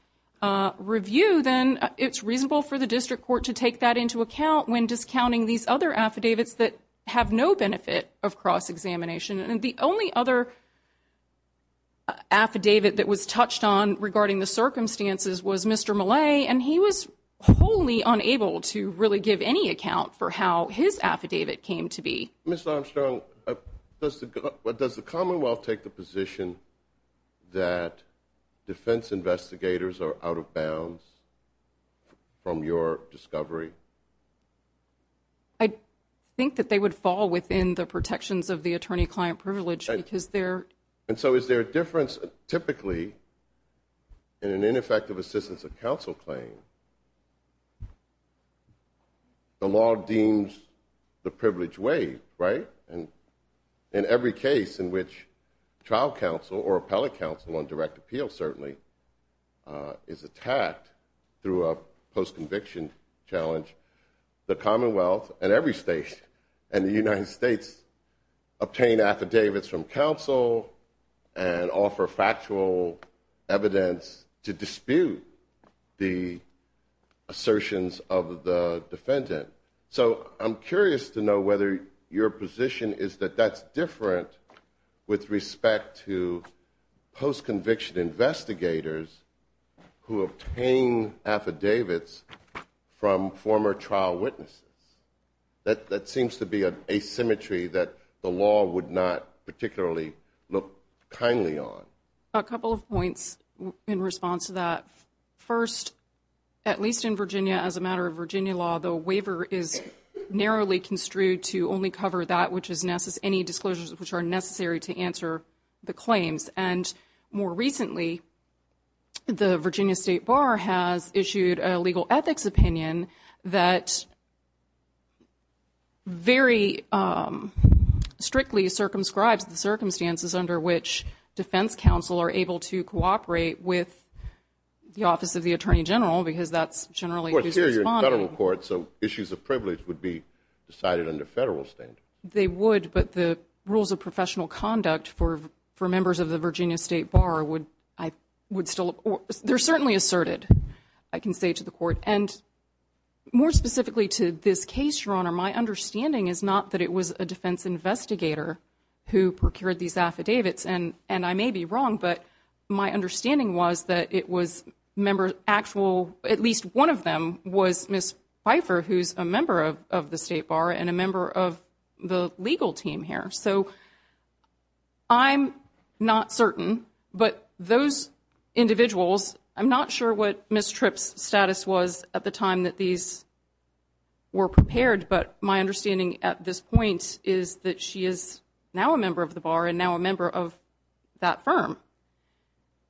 review, then it's reasonable for the district court to take that into account when discounting these other affidavits that have no benefit of cross-examination, and the only other affidavit that was touched on regarding the circumstances was Mr. Millay, and he was wholly unable to really give any account for how his affidavit came to be. Ms. Armstrong, does the Commonwealth take the position that defense investigators are out of bounds from your discovery? I think that they would fall within the protections of the attorney-client privilege because they're... And so is there a difference, typically, in an ineffective assistance of counsel claim? The law deems the privileged way, right? And in every case in which child counsel or appellate counsel on direct appeal certainly is attacked through a post-conviction challenge, the Commonwealth and every state and the United States obtain affidavits from counsel and offer factual evidence to dispute the assertions of the defendant. So I'm curious to know whether your position is that that's different with respect to post-conviction investigators who obtain affidavits from former trial witnesses. That seems to be an asymmetry that the law would not particularly look kindly on. A couple of points in response to that. First, at least in Virginia, as a matter of Virginia law, the waiver is narrowly construed to only cover that which is any disclosures which are necessary to answer the claims. And more recently, the Virginia State Bar has issued a legal ethics opinion that very strictly circumscribes the circumstances under which defense counsel are able to cooperate with the Office of the Attorney General because that's generally... Of course, here you're in federal court, so issues of privilege would be decided under federal statute. They would, but the rules of professional conduct for members of the Virginia State Bar would still... They're certainly asserted, I can say to the court. And more specifically, to this case, Your Honor, my understanding is not that it was a defense investigator who procured these affidavits. And I may be wrong, but my understanding was that it was members actual... At least one of them was Ms. Pfeiffer, who's a member of the State Bar and a member of the legal team here. So I'm not certain, but those individuals, I'm not sure what Ms. Tripp's status was at the time that these were prepared, but my understanding at this point is that she is now a member of the Bar and now a member of that firm.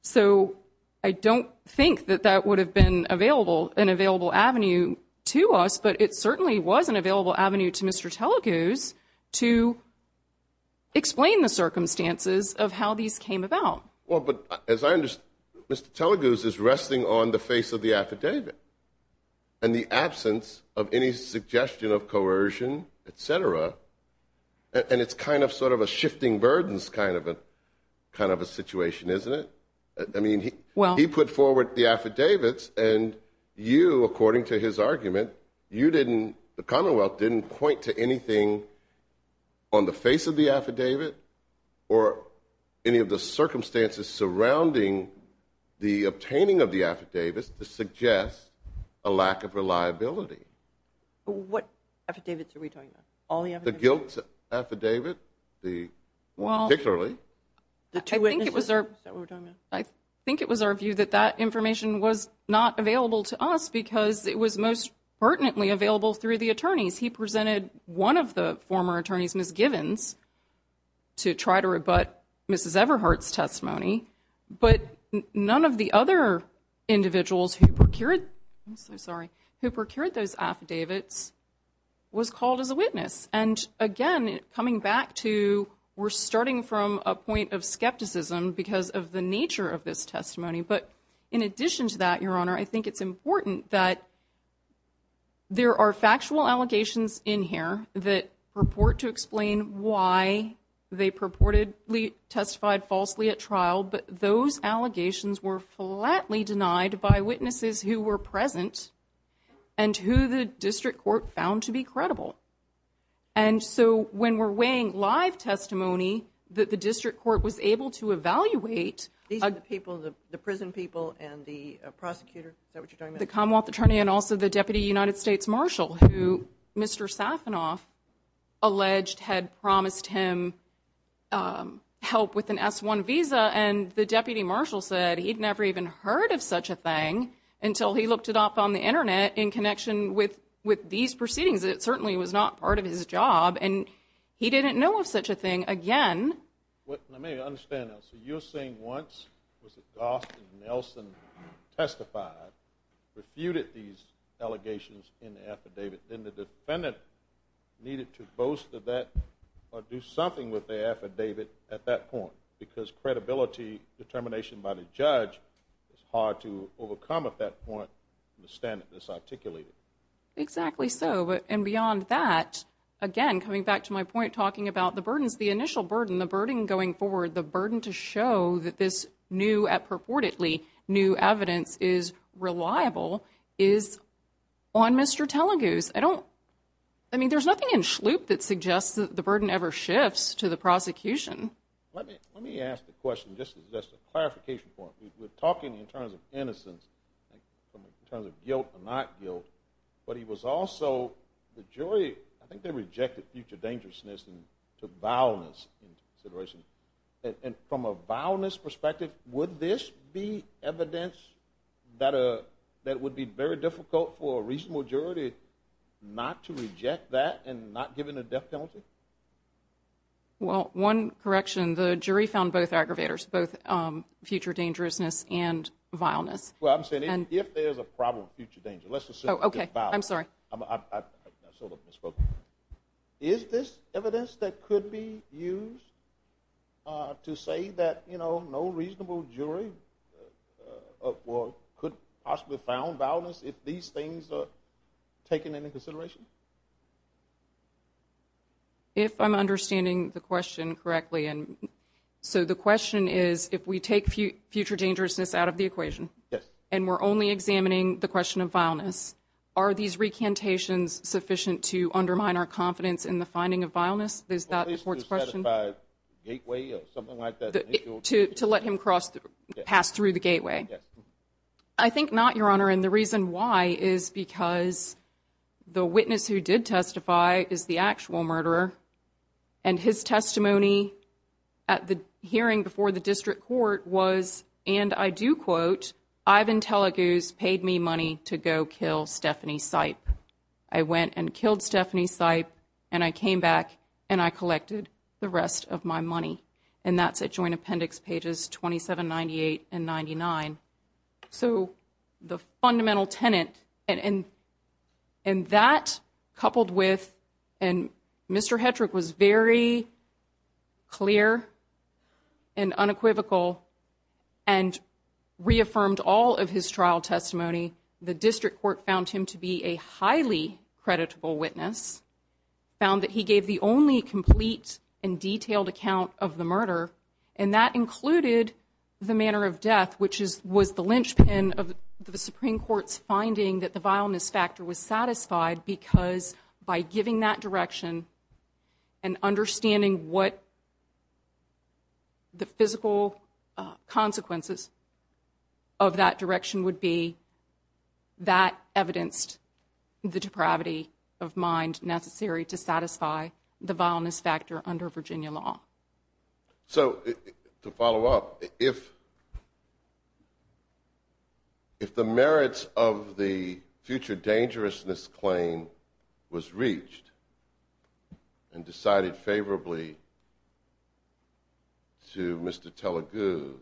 So I don't think that that would have been available, an available avenue to us, but it certainly was an available avenue to Mr. Teleguz to explain the circumstances of how these came about. Well, but as I understand, Mr. Teleguz is resting on the face of the affidavit and the absence of any suggestion of coercion, et cetera. And it's kind of sort of a shifting burdens kind of a situation, isn't it? I mean, he put forward the affidavits and you, according to his argument, you didn't... The Commonwealth didn't point to anything on the face of the affidavit or any of the circumstances surrounding the obtaining of the affidavit to suggest a lack of reliability. What affidavits are we talking about? All the affidavits? The guilt affidavit, particularly. Well, I think it was our view that that information was not available to us because it was most pertinently available through the attorneys. He presented one of the former attorneys, Ms. Givens, to try to rebut Ms. Everhart's testimony, but none of the other individuals who procured those affidavits was called as a witness. And again, coming back to, we're starting from a point of skepticism because of the nature of this testimony. But in addition to that, Your Honor, I think it's important that there are factual allegations in here that purport to explain why they purportedly testified falsely at trial, but those allegations were flatly denied by witnesses who were present and who the district court found to be credible. And so when we're weighing live testimony that the district court was able to evaluate... These are the people, the prison people and the Commonwealth Attorney and also the Deputy United States Marshal, who Mr. Sassanoff alleged had promised him help with an S-1 visa, and the Deputy Marshal said he'd never even heard of such a thing until he looked it up on the internet in connection with these proceedings. It certainly was not part of his job, and he didn't know of such a thing. Again... Let me understand that. So you're saying once Mr. Goss and Nelson testified, refuted these allegations in the affidavit, then the defendant needed to boast of that or do something with the affidavit at that point, because credibility, determination by the judge is hard to overcome at that point in the standard that's articulated. Exactly so. And beyond that, again, coming back to my point talking about the burdens, the initial burden, the burden going forward, the burden to show that this new, purportedly new evidence is reliable, is on Mr. Telleguse. I mean, there's nothing in Shloop that suggests that the burden ever shifts to the prosecution. Let me ask the question, just as a clarification point. We're talking in terms of innocence, in terms of guilt or not guilt, but he was also, the jury, I think they rejected future dangerousness and took violence into consideration. And from a violence perspective, would this be evidence that would be very difficult for a reasonable jury not to reject that and not give it a death penalty? Well, one correction, the jury found both aggravators, both future dangerousness and violence. Well, I'm saying if there's a problem, future danger, let's assume it's violence. Okay, I'm sorry. Is this evidence that could be used to say that, you know, no reasonable jury could possibly have found violence if these things are taken into consideration? If I'm understanding the question correctly. And so the question is, if we take future dangerousness out of the equation, and we're only examining the question of violence, are these recantations sufficient to undermine our confidence in the finding of violence? Is that the question? To let him cross, pass through the gateway? I think not, Your Honor. And the reason why is because the witness who did testify is the actual murderer. And his testimony at the hearing before the district court was, and I do quote, Ivan Teleguz paid me money to go kill Stephanie Sipe. I went and killed Stephanie Sipe, and I came back and I collected the rest of my money. And that's at Joint Appendix pages 27, 98, and 99. So the fundamental tenant, and that coupled with, and Mr. Hetrick was very clear and unequivocal and reaffirmed all of his trial testimony. The district court found him to be a highly creditable witness, found that he gave the only complete and detailed account of the manner of death, which was the linchpin of the Supreme Court's finding that the violence factor was satisfied because by giving that direction and understanding what the physical consequences of that direction would be, that evidenced the depravity of mind necessary to satisfy the violence factor under Virginia law. So to follow up, if the merits of the future dangerousness claim was reached and decided favorably to Mr. Teleguz,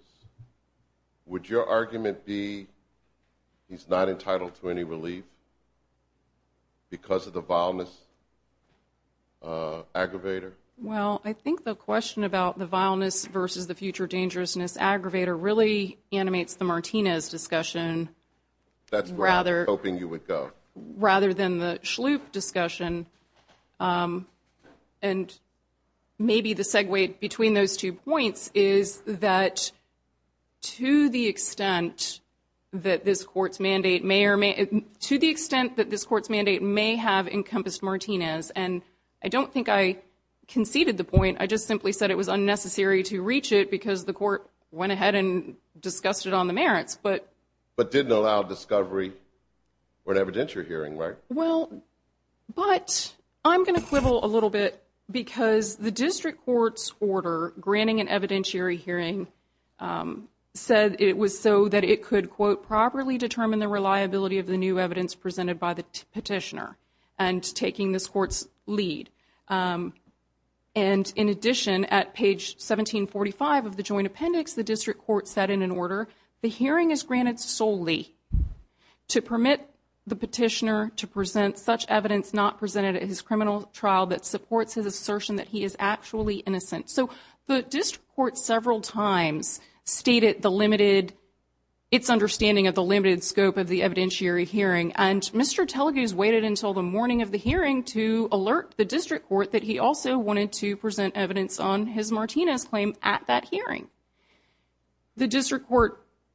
would your argument be he's not entitled to any relief because of the violence aggravator? Well, I think the question about the violence versus the future dangerousness aggravator really animates the Martinez discussion rather than the Shloof discussion. And maybe the segue between those two points is that to the extent that this court's mandate may or may, to the extent that this court's mandate may have encompassed Martinez, and I don't think I conceded the point. I just simply said it was unnecessary to reach it because the court went ahead and discussed it on the merits. But didn't allow discovery or an evidentiary hearing, right? Well, but I'm going to quibble a little bit because the district court's order granting an evidentiary hearing said it was so that it could, quote, properly determine the reliability of the new evidence presented by the petitioner and taking this court's lead. And in addition, at page 1745 of the joint appendix, the district court said in an order, the hearing is granted solely to permit the petitioner to present such evidence not presented in his criminal trial that supports his assertion that he is actually innocent. So the district court several times stated the limited, its understanding of the limited scope of the evidentiary hearing. And Mr. Telgeuse waited until the morning of the hearing to alert the district court that he also wanted to present evidence on his Martinez claim at that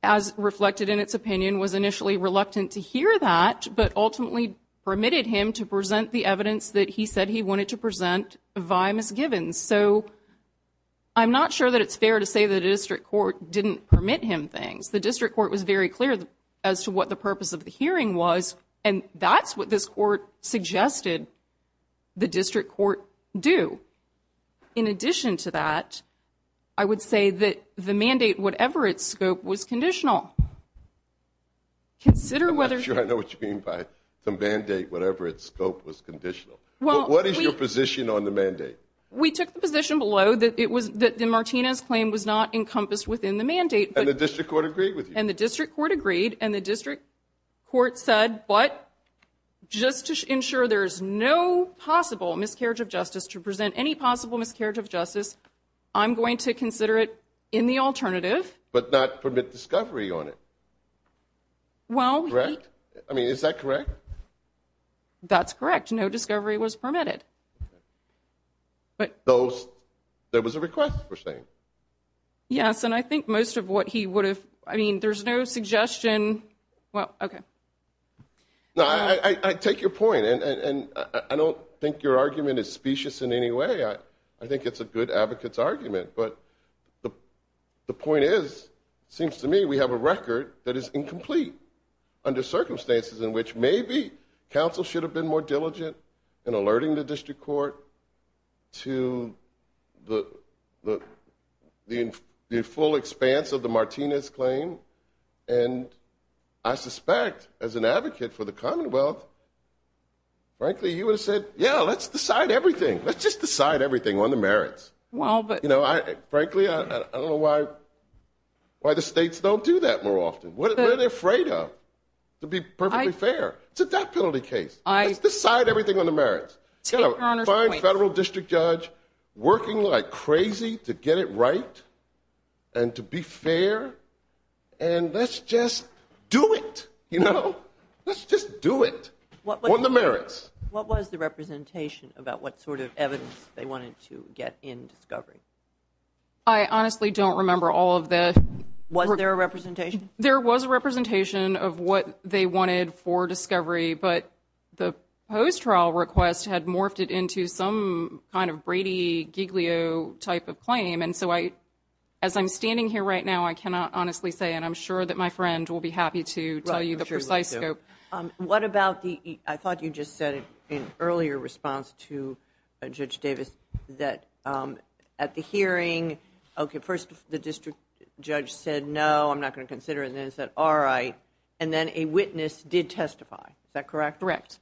as reflected in its opinion, was initially reluctant to hear that, but ultimately permitted him to present the evidence that he said he wanted to present via misgivings. So I'm not sure that it's fair to say the district court didn't permit him things. The district court was very clear as to what the purpose of the hearing was. And that's what this court suggested the district court do. In addition to that, I would say that the mandate, whatever its scope was conditional. I'm not sure I know what you mean by some mandate, whatever its scope was conditional. What is your position on the mandate? We took the position below that it was that the Martinez claim was not encompassed within the mandate. And the district court agreed with you? And the district court agreed. And the district court said, but just to ensure there's no possible miscarriage of justice to present any possible miscarriage of justice. I'm going to consider it in the alternative. But not permit discovery on it. Well, I mean, is that correct? That's correct. No discovery was permitted. But there was a request for saying. Yes, and I think most of what he would have. I mean, there's no suggestion. Well, okay. No, I take your point and I don't think your argument is specious in any way. I think it's a good advocates argument. But the point is, seems to me we have a record that is incomplete. Under circumstances in which maybe counsel should have been more diligent in alerting the district court to the full expanse of the Martinez claim. And I suspect as an advocate for the Commonwealth. Frankly, you would have said, yeah, let's decide everything. Let's just decide everything on the merits. Well, but you know, I frankly, I don't know why. Why the states don't do that more often. What are they afraid of? To be perfectly fair to that penalty case. I decide everything on the merits federal district judge working like crazy to get it right. And to be fair, and let's just do it. You know, let's just do it on the merits. What was the representation about what sort of evidence they wanted to get in discovery? I honestly don't remember all of this. Was there a representation? There was a representation of what they wanted for discovery. But the post trial request had morphed it into some kind of Brady Giglio type of claim. And so I, as I'm standing here right now, I cannot honestly say, and I'm sure that my friend will be happy to tell you the precise scope. What about the, I thought you just said in earlier response to Judge Davis, that at the hearing, okay, first, the district judge said, no, I'm not going to consider it. And then it said, all right. And then a witness did testify. Is that correct? Correct.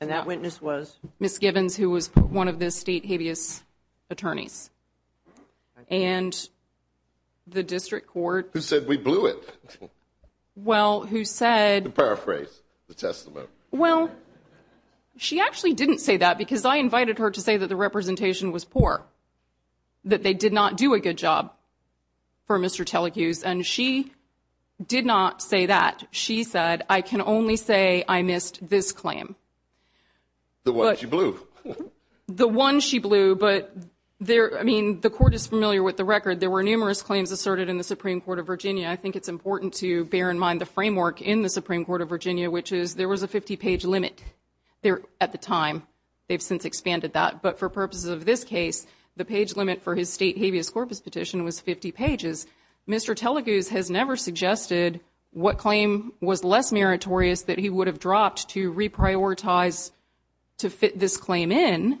And that witness was? Miss Gibbons, who was one of the state habeas attorneys. And the district court. Who said we blew it. Well, who said. Paraphrase the testament. Well, she actually didn't say that because I invited her to say that the representation was poor. That they did not do a good job for Mr. Telecuse. And she did not say that. She said, I can only say I missed this claim. The one she blew. The one she blew. But there, I mean, the court is familiar with the record. There were numerous claims asserted in the Supreme Court of Virginia. I think it's important to bear in mind the framework in the Supreme Court of Virginia, which is there was a 50 page limit there at the time. They've since expanded that. But for purposes of this case, the page limit for his state habeas corpus petition was 50 pages. Mr. Telecuse has never suggested what claim was less meritorious that he would have dropped to reprioritize to fit this claim in.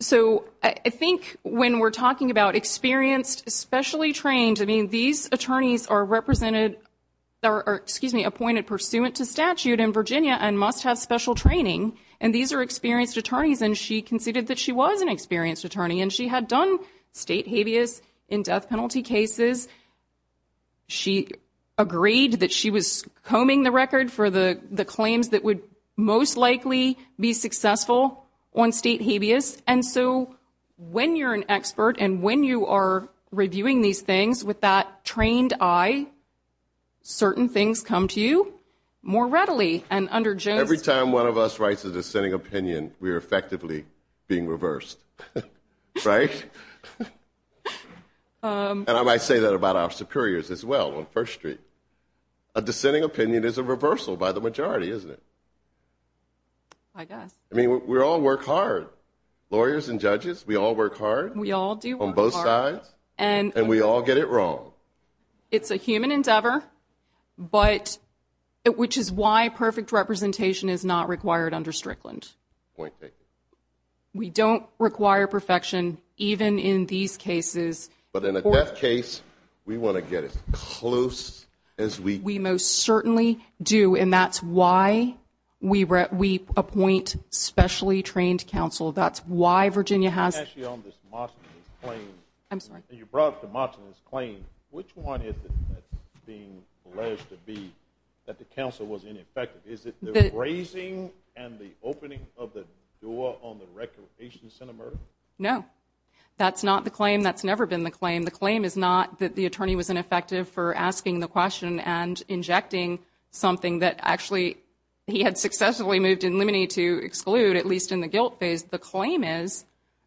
So I think when we're talking about experienced, especially trained, I mean, these attorneys are represented or, excuse me, appointed pursuant to statute in Virginia and must have special training. And these are experienced attorneys. And she conceded that she was an experienced attorney. And she had done state habeas in death penalty cases. She agreed that she was combing the record for the claims that would most likely be successful on state habeas. And so when you're an expert and when you are reviewing these things with that trained eye, certain things come to you more readily. And under Jones- Every time one of us writes a dissenting opinion, we're effectively being reversed, right? And I might say that about our superiors as well on First Street. A dissenting opinion is a reversal by the majority, isn't it? I guess. I mean, we all work hard. Lawyers and judges, we all work hard. We all do. On both sides. And- And we all get it wrong. It's a human endeavor, but which is why perfect representation is not required under Strickland. Point taken. We don't require perfection even in these cases. But in a death case, we want to get as close as we- We most certainly do. And that's why we appoint specially trained counsel. That's why Virginia has- I'm going to ask you on this Mosley's claim. I'm sorry. You brought up the Mosley's claim. Which one is it being alleged to be that the counsel was ineffective? Is it the raising and the opening of the door on the record of patients in America? No. That's not the claim. That's never been the claim. The claim is not that the attorney was ineffective for asking the question and injecting something that actually he had successfully moved in limine to exclude, at least in the guilt phase. The claim is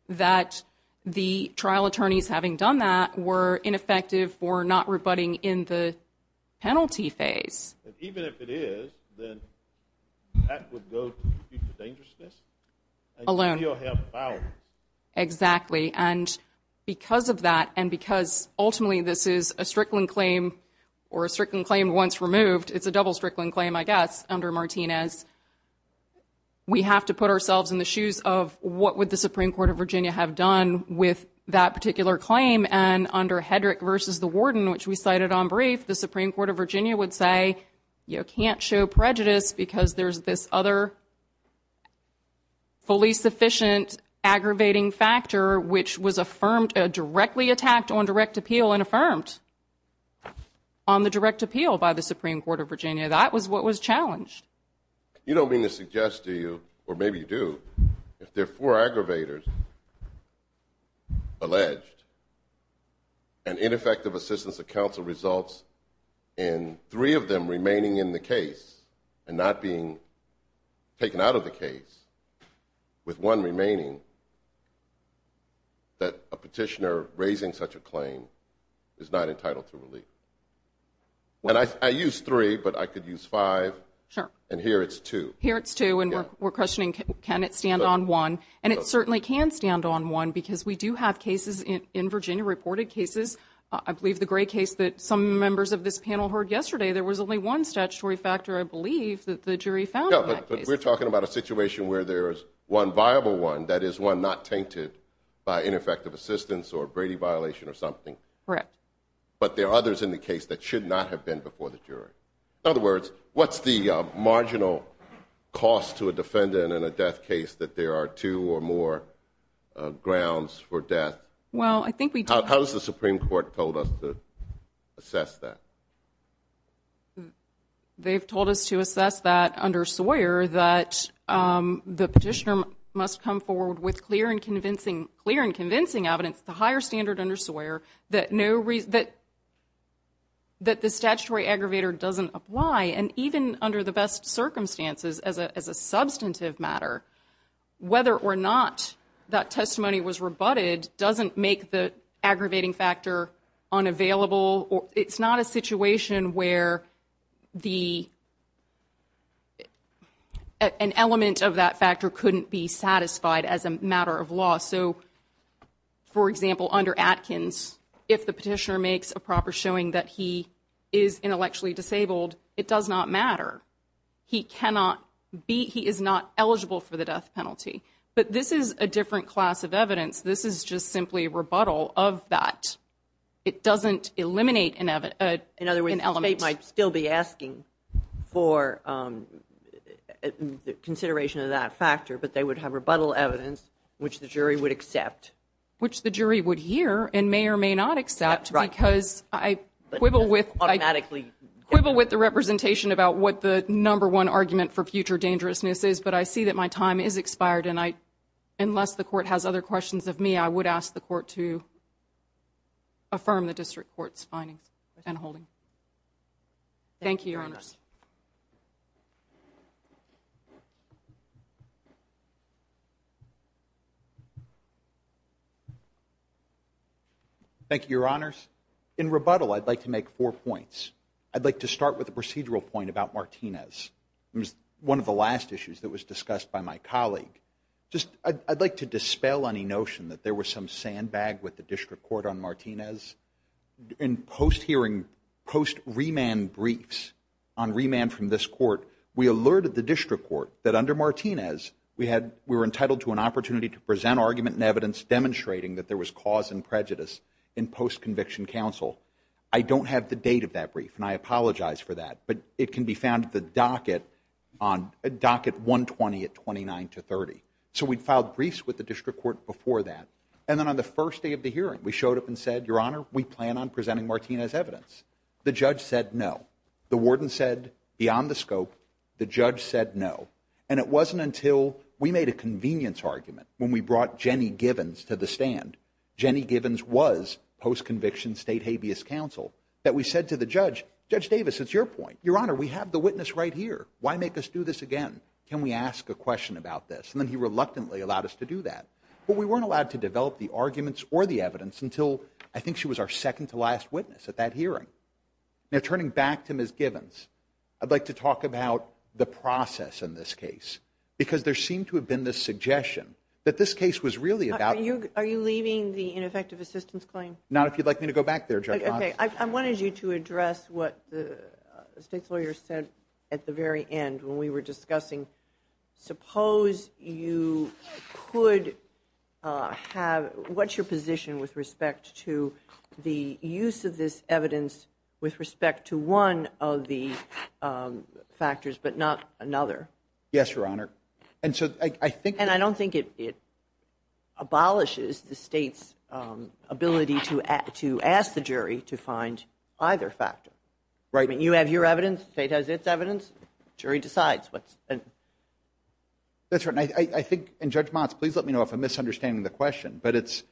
that the trial attorneys, having done that, were ineffective for not rebutting in the penalty phase. And even if it is, then that would go to the future dangerousness. Alone. And still have power. Exactly. And because of that, and because ultimately this is a Strickland claim, or a Strickland claim once removed, it's a double Strickland claim, I guess, under Martinez, we have to put ourselves in the shoes of what would the Supreme Court of Virginia have done with that particular claim. And under Hedrick versus the warden, which we cited on brief, the Supreme Court of Virginia would say, you can't show prejudice because there's this other fully sufficient aggravating factor, which was affirmed, directly attacked on direct appeal and affirmed on the direct appeal by the Supreme Court of Virginia. That was what was challenged. You don't mean to suggest to you, or maybe you do, if there are four aggravators alleged, and ineffective assistance of counsel results in three of them remaining in the case, and not being taken out of the case, with one remaining, that a petitioner raising such a claim is not entitled to relief. And I used three, but I could use five. Sure. And here it's two. Here it's two, and we're questioning, can it stand on one? And it certainly can stand on one, because we do have cases in Virginia, reported cases. I believe the gray case that some members of this panel heard yesterday, there was only one statutory factor, I believe, that the jury found in that case. No, but we're talking about a situation where there is one viable one, that is one not tainted by ineffective assistance or a Brady violation or something. Correct. But there are others in the case that should not have been before the jury. In other words, what's the marginal cost to a defendant in a death case that there are two or more grounds for death? Well, I think we do. How has the Supreme Court told us to assess that? They've told us to assess that under Sawyer, that the petitioner must come forward with clear and convincing evidence, the higher standard under Sawyer, that the statutory aggravator doesn't apply. And even under the best circumstances, as a substantive matter, whether or not that testimony was rebutted doesn't make the aggravating factor unavailable. It's not a situation where an element of that factor couldn't be satisfied as a matter of law. So, for example, under Atkins, if the petitioner makes a proper showing that he is intellectually disabled, it does not matter. He cannot be, he is not eligible for the death penalty. But this is a different class of evidence. This is just simply rebuttal of that. It doesn't eliminate an element. In other words, they might still be asking for consideration of that factor, but they would have rebuttal evidence which the jury would accept. Which the jury would hear and may or may not accept because I quibble with. I quibble with the representation about what the number one argument for future dangerousness is, but I see that my time is expired. And I, unless the court has other questions of me, I would ask the court to affirm the district court's findings and holdings. Thank you, Your Honors. Thank you, Your Honors. In rebuttal, I'd like to make four points. I'd like to start with the procedural point about Martinez. It was one of the last issues that was discussed by my colleague. Just, I'd like to dispel any notion that there was some sandbag with the district court on Martinez. In post-hearing, post-remand briefs on remand from this court, we alerted the district court that under Martinez, we were entitled to an opportunity to present argument and evidence demonstrating that there was cause and prejudice in post-conviction counsel. I don't have the date of that brief, and I apologize for that. But it can be found at the docket, on docket 120 at 29 to 30. So we filed briefs with the district court before that. And then on the first day of the hearing, we showed up and said, Your Honor, we plan on presenting Martinez' evidence. The judge said no. The warden said beyond the scope. The judge said no. And it wasn't until we made a convenience argument when we brought Jenny Givens to the stand, Jenny Givens was post-conviction state habeas counsel, that we said to the judge, Judge Davis, it's your point. Your Honor, we have the witness right here. Why make us do this again? Can we ask a question about this? And then he reluctantly allowed us to do that. But we weren't allowed to develop the arguments or the evidence until I think she was our second to last witness at that hearing. Now, turning back to Ms. Givens, I'd like to talk about the process in this case. Because there seemed to have been this suggestion that this case was really about... Are you leaving the ineffective assistance claim? Not if you'd like me to go back there, Judge. Okay. I wanted you to address what the state lawyer said at the very end when we were discussing, suppose you could have... What's your position with respect to the use of this evidence with respect to one of the factors, but not another? Yes, Your Honor. And so I think... And I don't think it abolishes the state's ability to ask the jury to find either factor. Right. I mean, you have your evidence. State has its evidence. Jury decides. That's right. I think... And Judge Motz, please let me know if I'm misunderstanding the question. But it's,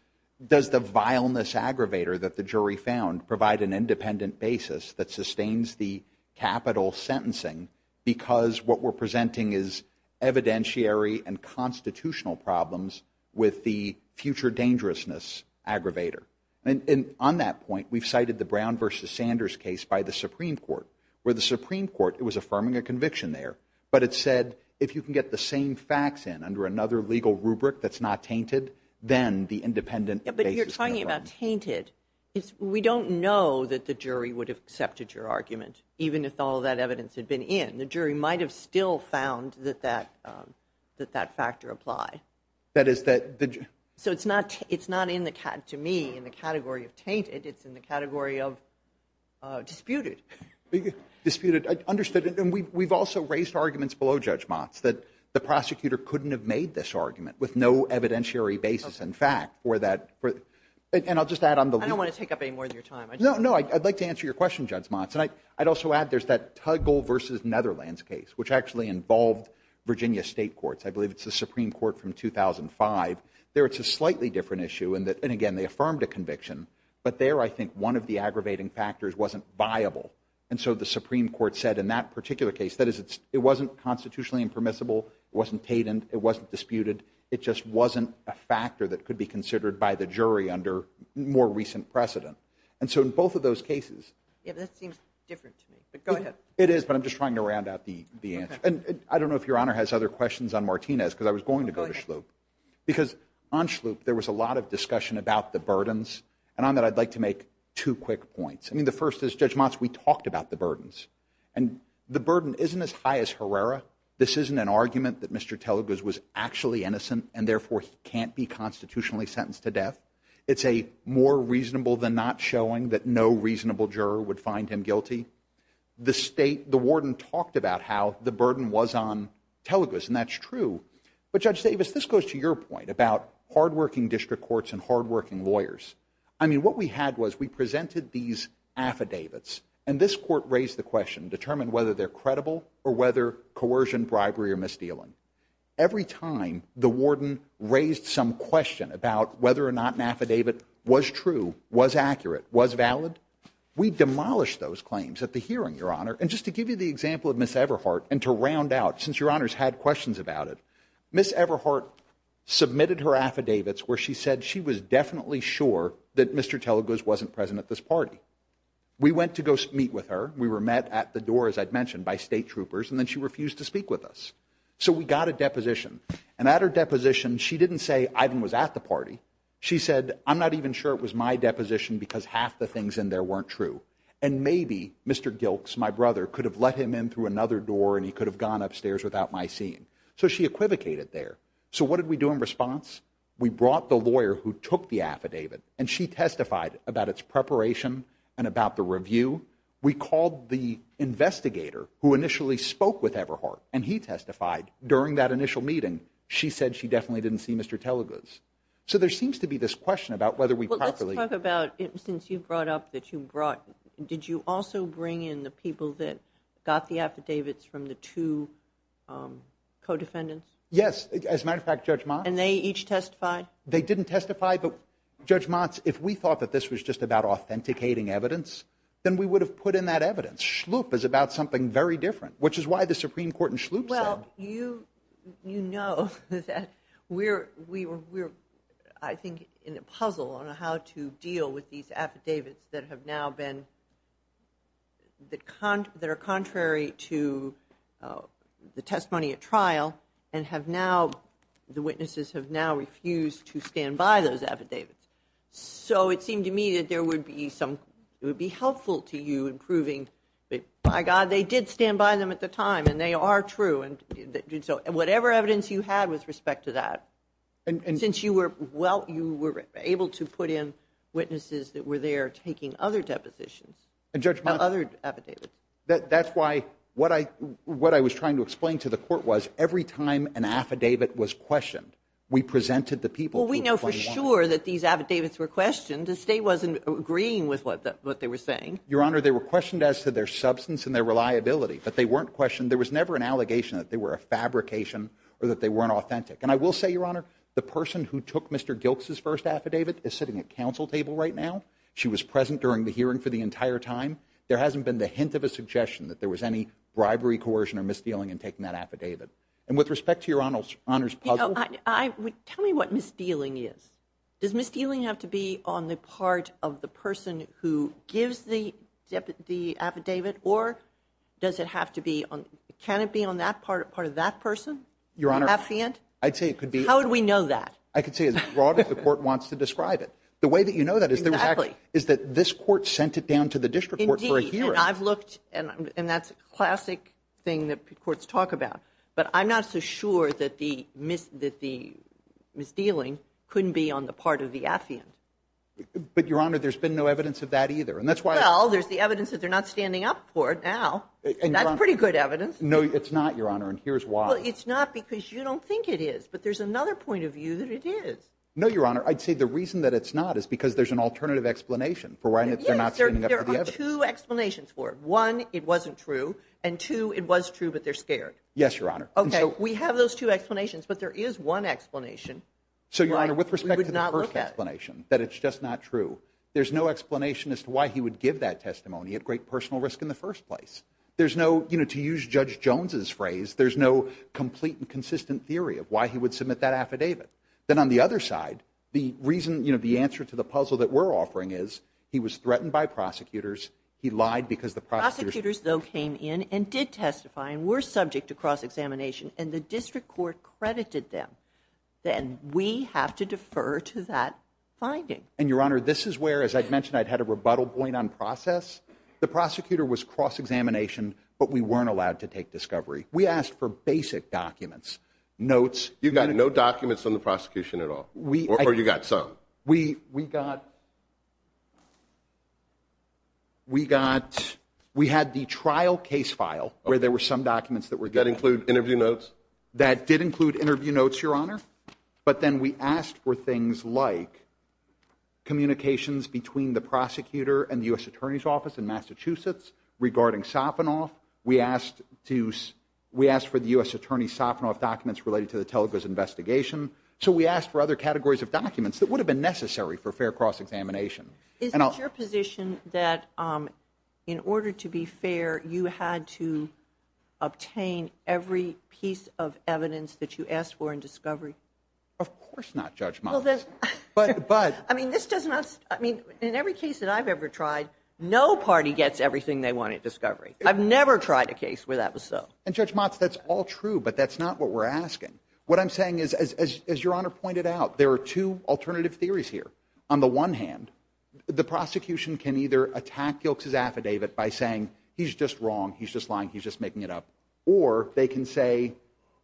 does the vileness aggravator that the jury found provide an independent basis that sustains the capital sentencing? Because what we're presenting is evidentiary and constitutional problems with the future dangerousness aggravator. And on that point, we've cited the Brown versus Sanders case by the Supreme Court. Where the Supreme Court, it was affirming a conviction there, but it said, if you can get the same facts in under another legal rubric that's not tainted, then the independent... But you're talking about tainted. We don't know that the jury would have accepted your argument, even if all that evidence had been in. The jury might've still found that that factor apply. That is that... So it's not in the, to me, in the category of tainted. It's in the category of disputed. Disputed, understood. And we've also raised arguments below Judge Motz that the prosecutor couldn't have made this argument with no evidentiary basis in fact, or that... And I'll just add on the... I don't want to take up any more of your time. No, I'd like to answer your question, Judge Motz. And I'd also add there's that Tuggle versus Netherlands case, which actually involved Virginia State Courts. I believe it's the Supreme Court from 2005. There, it's a slightly different issue. And again, they affirmed a conviction. But there, I think one of the aggravating factors wasn't viable. And so the Supreme Court said in that particular case, that is, it wasn't constitutionally impermissible. It wasn't tainted. It wasn't disputed. It just wasn't a factor that could be considered by the jury under more recent precedent. And so in both of those cases... Yeah, that seems different to me, but go ahead. It is, but I'm just trying to round out the answer. And I don't know if Your Honor has other questions on Martinez, because I was going to go to Schlup. Because on Schlup, there was a lot of discussion about the burdens. And on that, I'd like to make two quick points. I mean, the first is, Judge Motz, we talked about the burdens. And the burden isn't as high as Herrera. This isn't an argument that Mr. Teleguz was actually innocent, and therefore can't be constitutionally sentenced to death. It's a more reasonable than not showing that no reasonable juror would find him guilty. The warden talked about how the burden was on Teleguz, and that's true. But Judge Davis, this goes to your point about hardworking district courts and hardworking lawyers. I mean, what we had was we presented these affidavits, and this court raised the question, determined whether they're credible or whether coercion, bribery, or misdealing. Every time the warden raised some question about whether or not an affidavit was true, was accurate, was valid, we demolished those claims at the hearing, Your Honor. And just to give you the example of Ms. Everhart, and to round out, since Your Honor's had questions about it, Ms. Everhart submitted her affidavits where she said she was definitely sure that Mr. Teleguz wasn't present at this party. We went to go meet with her. We were met at the door, as I'd mentioned, by state troopers, and then she refused to speak with us. So we got a deposition. And at her deposition, she didn't say Ivan was at the party. She said, I'm not even sure it was my deposition because half the things in there weren't true. And maybe Mr. Giltz, my brother, could have let him in through another door, and he could have gone upstairs without my seeing. So she equivocated there. So what did we do in response? We brought the lawyer who took the affidavit, and she testified about its preparation and about the review. We called the investigator who initially spoke with Everhart, and he testified during that initial meeting. She said she definitely didn't see Mr. Teleguz. So there seems to be this question about whether we properly- Let's talk about, since you brought up that you brought, did you also bring in the people that got the affidavits from the two co-defendants? Yes. As a matter of fact, Judge Motz- And they each testified? They didn't testify, but Judge Motz, if we thought that this was just about authenticating evidence, then we would have put in that evidence. Schlup is about something very different, which is why the Supreme Court and Schlup- Well, you know that we were, I think, in a puzzle on how to deal with these affidavits that are contrary to the testimony at trial, and the witnesses have now refused to stand by those affidavits. So it seemed to me that it would be helpful to you in proving that, by God, they did stand by them at the time, and they are true. Whatever evidence you had with respect to that, and since you were able to put in witnesses that were there taking other depositions, other affidavits- That's why what I was trying to explain to the court was, every time an affidavit was questioned, we presented the people- Well, we know for sure that these affidavits were questioned. The state wasn't agreeing with what they were saying. Your Honor, they were questioned as to their substance and their reliability, but they weren't questioned. There was never an allegation that they were a fabrication or that they weren't authentic. And I will say, Your Honor, the person who took Mr. Gilkes' first affidavit is sitting at counsel table right now. She was present during the hearing for the entire time. There hasn't been the hint of a suggestion that there was any bribery, coercion, or misdealing in taking that affidavit. And with respect to Your Honor's puzzle- Tell me what misdealing is. Does misdealing have to be on the part of the person who gives the affidavit, or does it have to be on- Can it be on that part of that person? Your Honor, I'd say it could be- How would we know that? I could say as broad as the court wants to describe it. The way that you know that is that this court sent it down to the district court for a hearing. Indeed, and I've looked, and that's a classic thing that courts talk about, but I'm not so sure that the misdealing couldn't be on the part of the affidavit. But Your Honor, there's been no evidence of that either, and that's why- Well, there's the evidence that they're not standing up for it now. That's pretty good evidence. No, it's not, Your Honor, and here's why. It's not because you don't think it is, but there's another point of view that it is. No, Your Honor, I'd say the reason that it's not is because there's an alternative explanation for why they're not standing up for the affidavit. Yes, there are two explanations for it. One, it wasn't true, and two, it was true, but they're scared. Yes, Your Honor. Okay, we have those two explanations, but there is one explanation- So, Your Honor, with respect to the first explanation, that it's just not true, there's no explanation as to why he would give that testimony at great personal risk in the first place. There's no, you know, to use Judge Jones's phrase, there's no complete and consistent theory of why he would submit that affidavit. Then on the other side, the reason, you know, the answer to the puzzle that we're offering is he was threatened by prosecutors, he lied because the prosecutors- Prosecutors, though, came in and did testify and were subject to cross-examination, and the district court credited them. Then we have to defer to that finding. And, Your Honor, this is where, as I mentioned, I'd had a rebuttal point on process. The prosecutor was cross-examination, but we weren't allowed to take discovery. We asked for basic documents, notes- You got no documents on the prosecution at all, or you got some? We got- We got- We had the trial case file where there were some documents that were- That include interview notes? That did include interview notes, Your Honor, but then we asked for things like communications between the prosecutor and the U.S. Attorney's Office in Massachusetts regarding Sopinoff. We asked to- We asked for the U.S. Attorney Sopinoff documents related to the Telegos investigation, so we asked for other categories of documents that would have been necessary for fair cross-examination. Is it your position that in order to be fair, you had to obtain every piece of evidence that you asked for in discovery? Of course not, Judge Miles. But- But- I mean, this doesn't- I mean, in every case that I've ever tried, no party gets everything they want in discovery. I've never tried a case where that was so. And, Judge Motz, that's all true, but that's not what we're asking. What I'm saying is, as Your Honor pointed out, there are two alternative theories here. On the one hand, the prosecution can either attack Gilkes' affidavit by saying, he's just wrong, he's just lying, he's just making it up. Or they can say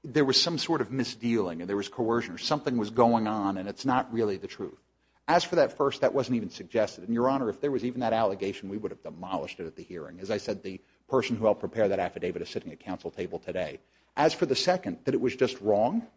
there was some sort of misdealing and there was coercion or something was going on and it's not really the truth. As for that first, that wasn't even suggested. And, Your Honor, if there was even that allegation, we would have demolished it at the hearing. As I said, the person who helped prepare that affidavit is sitting at council table today. As for the second, that it was just wrong?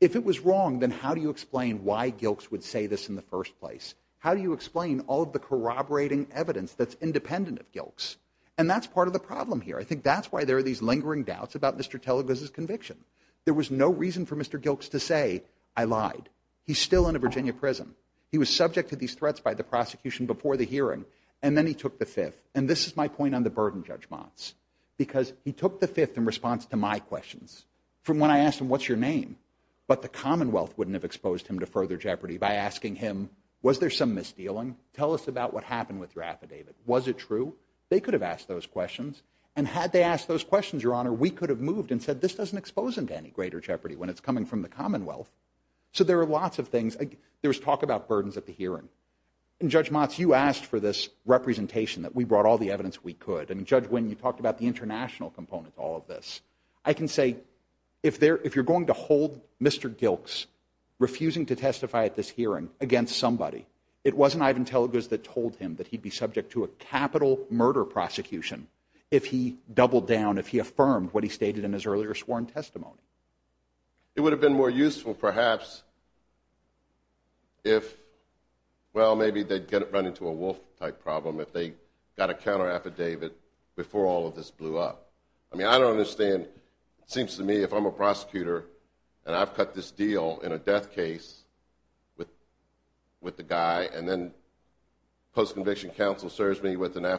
If it was wrong, then how do you explain why Gilkes would say this in the first place? How do you explain all of the corroborating evidence that's independent of Gilkes? And that's part of the problem here. I think that's why there are these lingering doubts about Mr. Telegos' conviction. There was no reason for Mr. Gilkes to say, I lied. He's still in a Virginia prison. He was subject to these threats by the prosecution before the hearing. And then he took the fifth. And this is my point on the burden judgments. Because he took the fifth in response to my questions. From when I asked him, what's your name? But the Commonwealth wouldn't have exposed him to further jeopardy by asking him, was there some misdealing? Tell us about what happened with your affidavit. Was it true? They could have asked those questions. And had they asked those questions, Your Honor, we could have moved and said, this doesn't expose him to any greater jeopardy when it's coming from the Commonwealth. So there are lots of things. There was talk about burdens at the hearing. And Judge Motz, you asked for this representation that we brought all the evidence we could. And Judge Wynn, you talked about the international component to all of this. I can say, if you're going to hold Mr. Gilkes refusing to testify at this hearing against somebody, it wasn't Ivan Telegos that told him that he'd be subject to a capital murder prosecution if he doubled down, if he affirmed what he stated in his earlier sworn testimony. It would have been more useful, perhaps, if, well, maybe they'd run into a Wolf type problem if they got a counter affidavit before all of this blew up. I mean, I don't understand, it seems to me, if I'm a prosecutor and I've cut this deal in a death case with the guy, and then post-conviction counsel serves me with an Why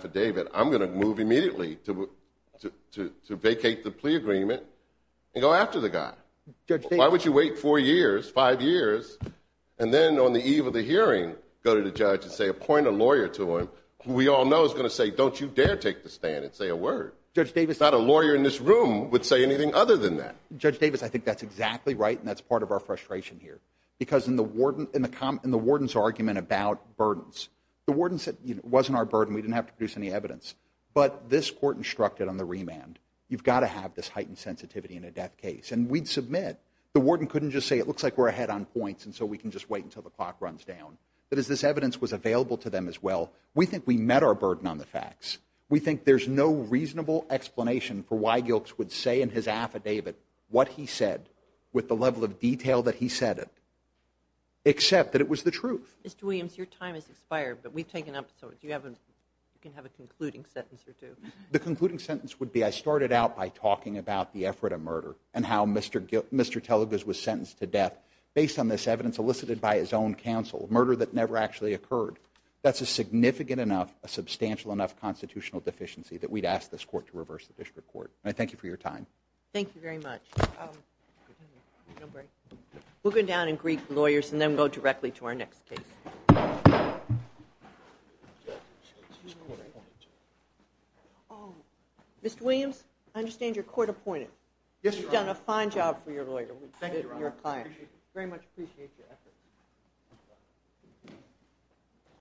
would you wait four years, five years, and then on the eve of the hearing go to the judge and say, appoint a lawyer to him, who we all know is going to say, don't you dare take the stand and say a word? Not a lawyer in this room would say anything other than that. Judge Davis, I think that's exactly right, and that's part of our frustration here. Because in the warden's argument about burdens, the warden said, it wasn't our burden, we didn't have to produce any evidence. But this court instructed on the remand, you've got to have this heightened sensitivity in a death case. And we'd submit. The warden couldn't just say, it looks like we're ahead on points, and so we can just wait until the clock runs down. But as this evidence was available to them as well, we think we met our burden on the facts. We think there's no reasonable explanation for why Gilks would say in his affidavit what he said with the level of detail that he said it, except that it was the truth. Mr. Williams, your time has expired, but we've taken episodes. Do you have a concluding sentence or two? The concluding sentence would be, I started out by talking about the effort of murder, and how Mr. Teligus was sentenced to death based on this evidence elicited by his own counsel, murder that never actually occurred. That's a significant enough, a substantial enough constitutional deficiency that we'd ask this court to reverse the district court. And I thank you for your time. Thank you very much. We'll go down and greet the lawyers, and then go directly to our next case. Mr. Williams, I understand you're court-appointed. You've done a fine job for your lawyer. We very much appreciate your effort.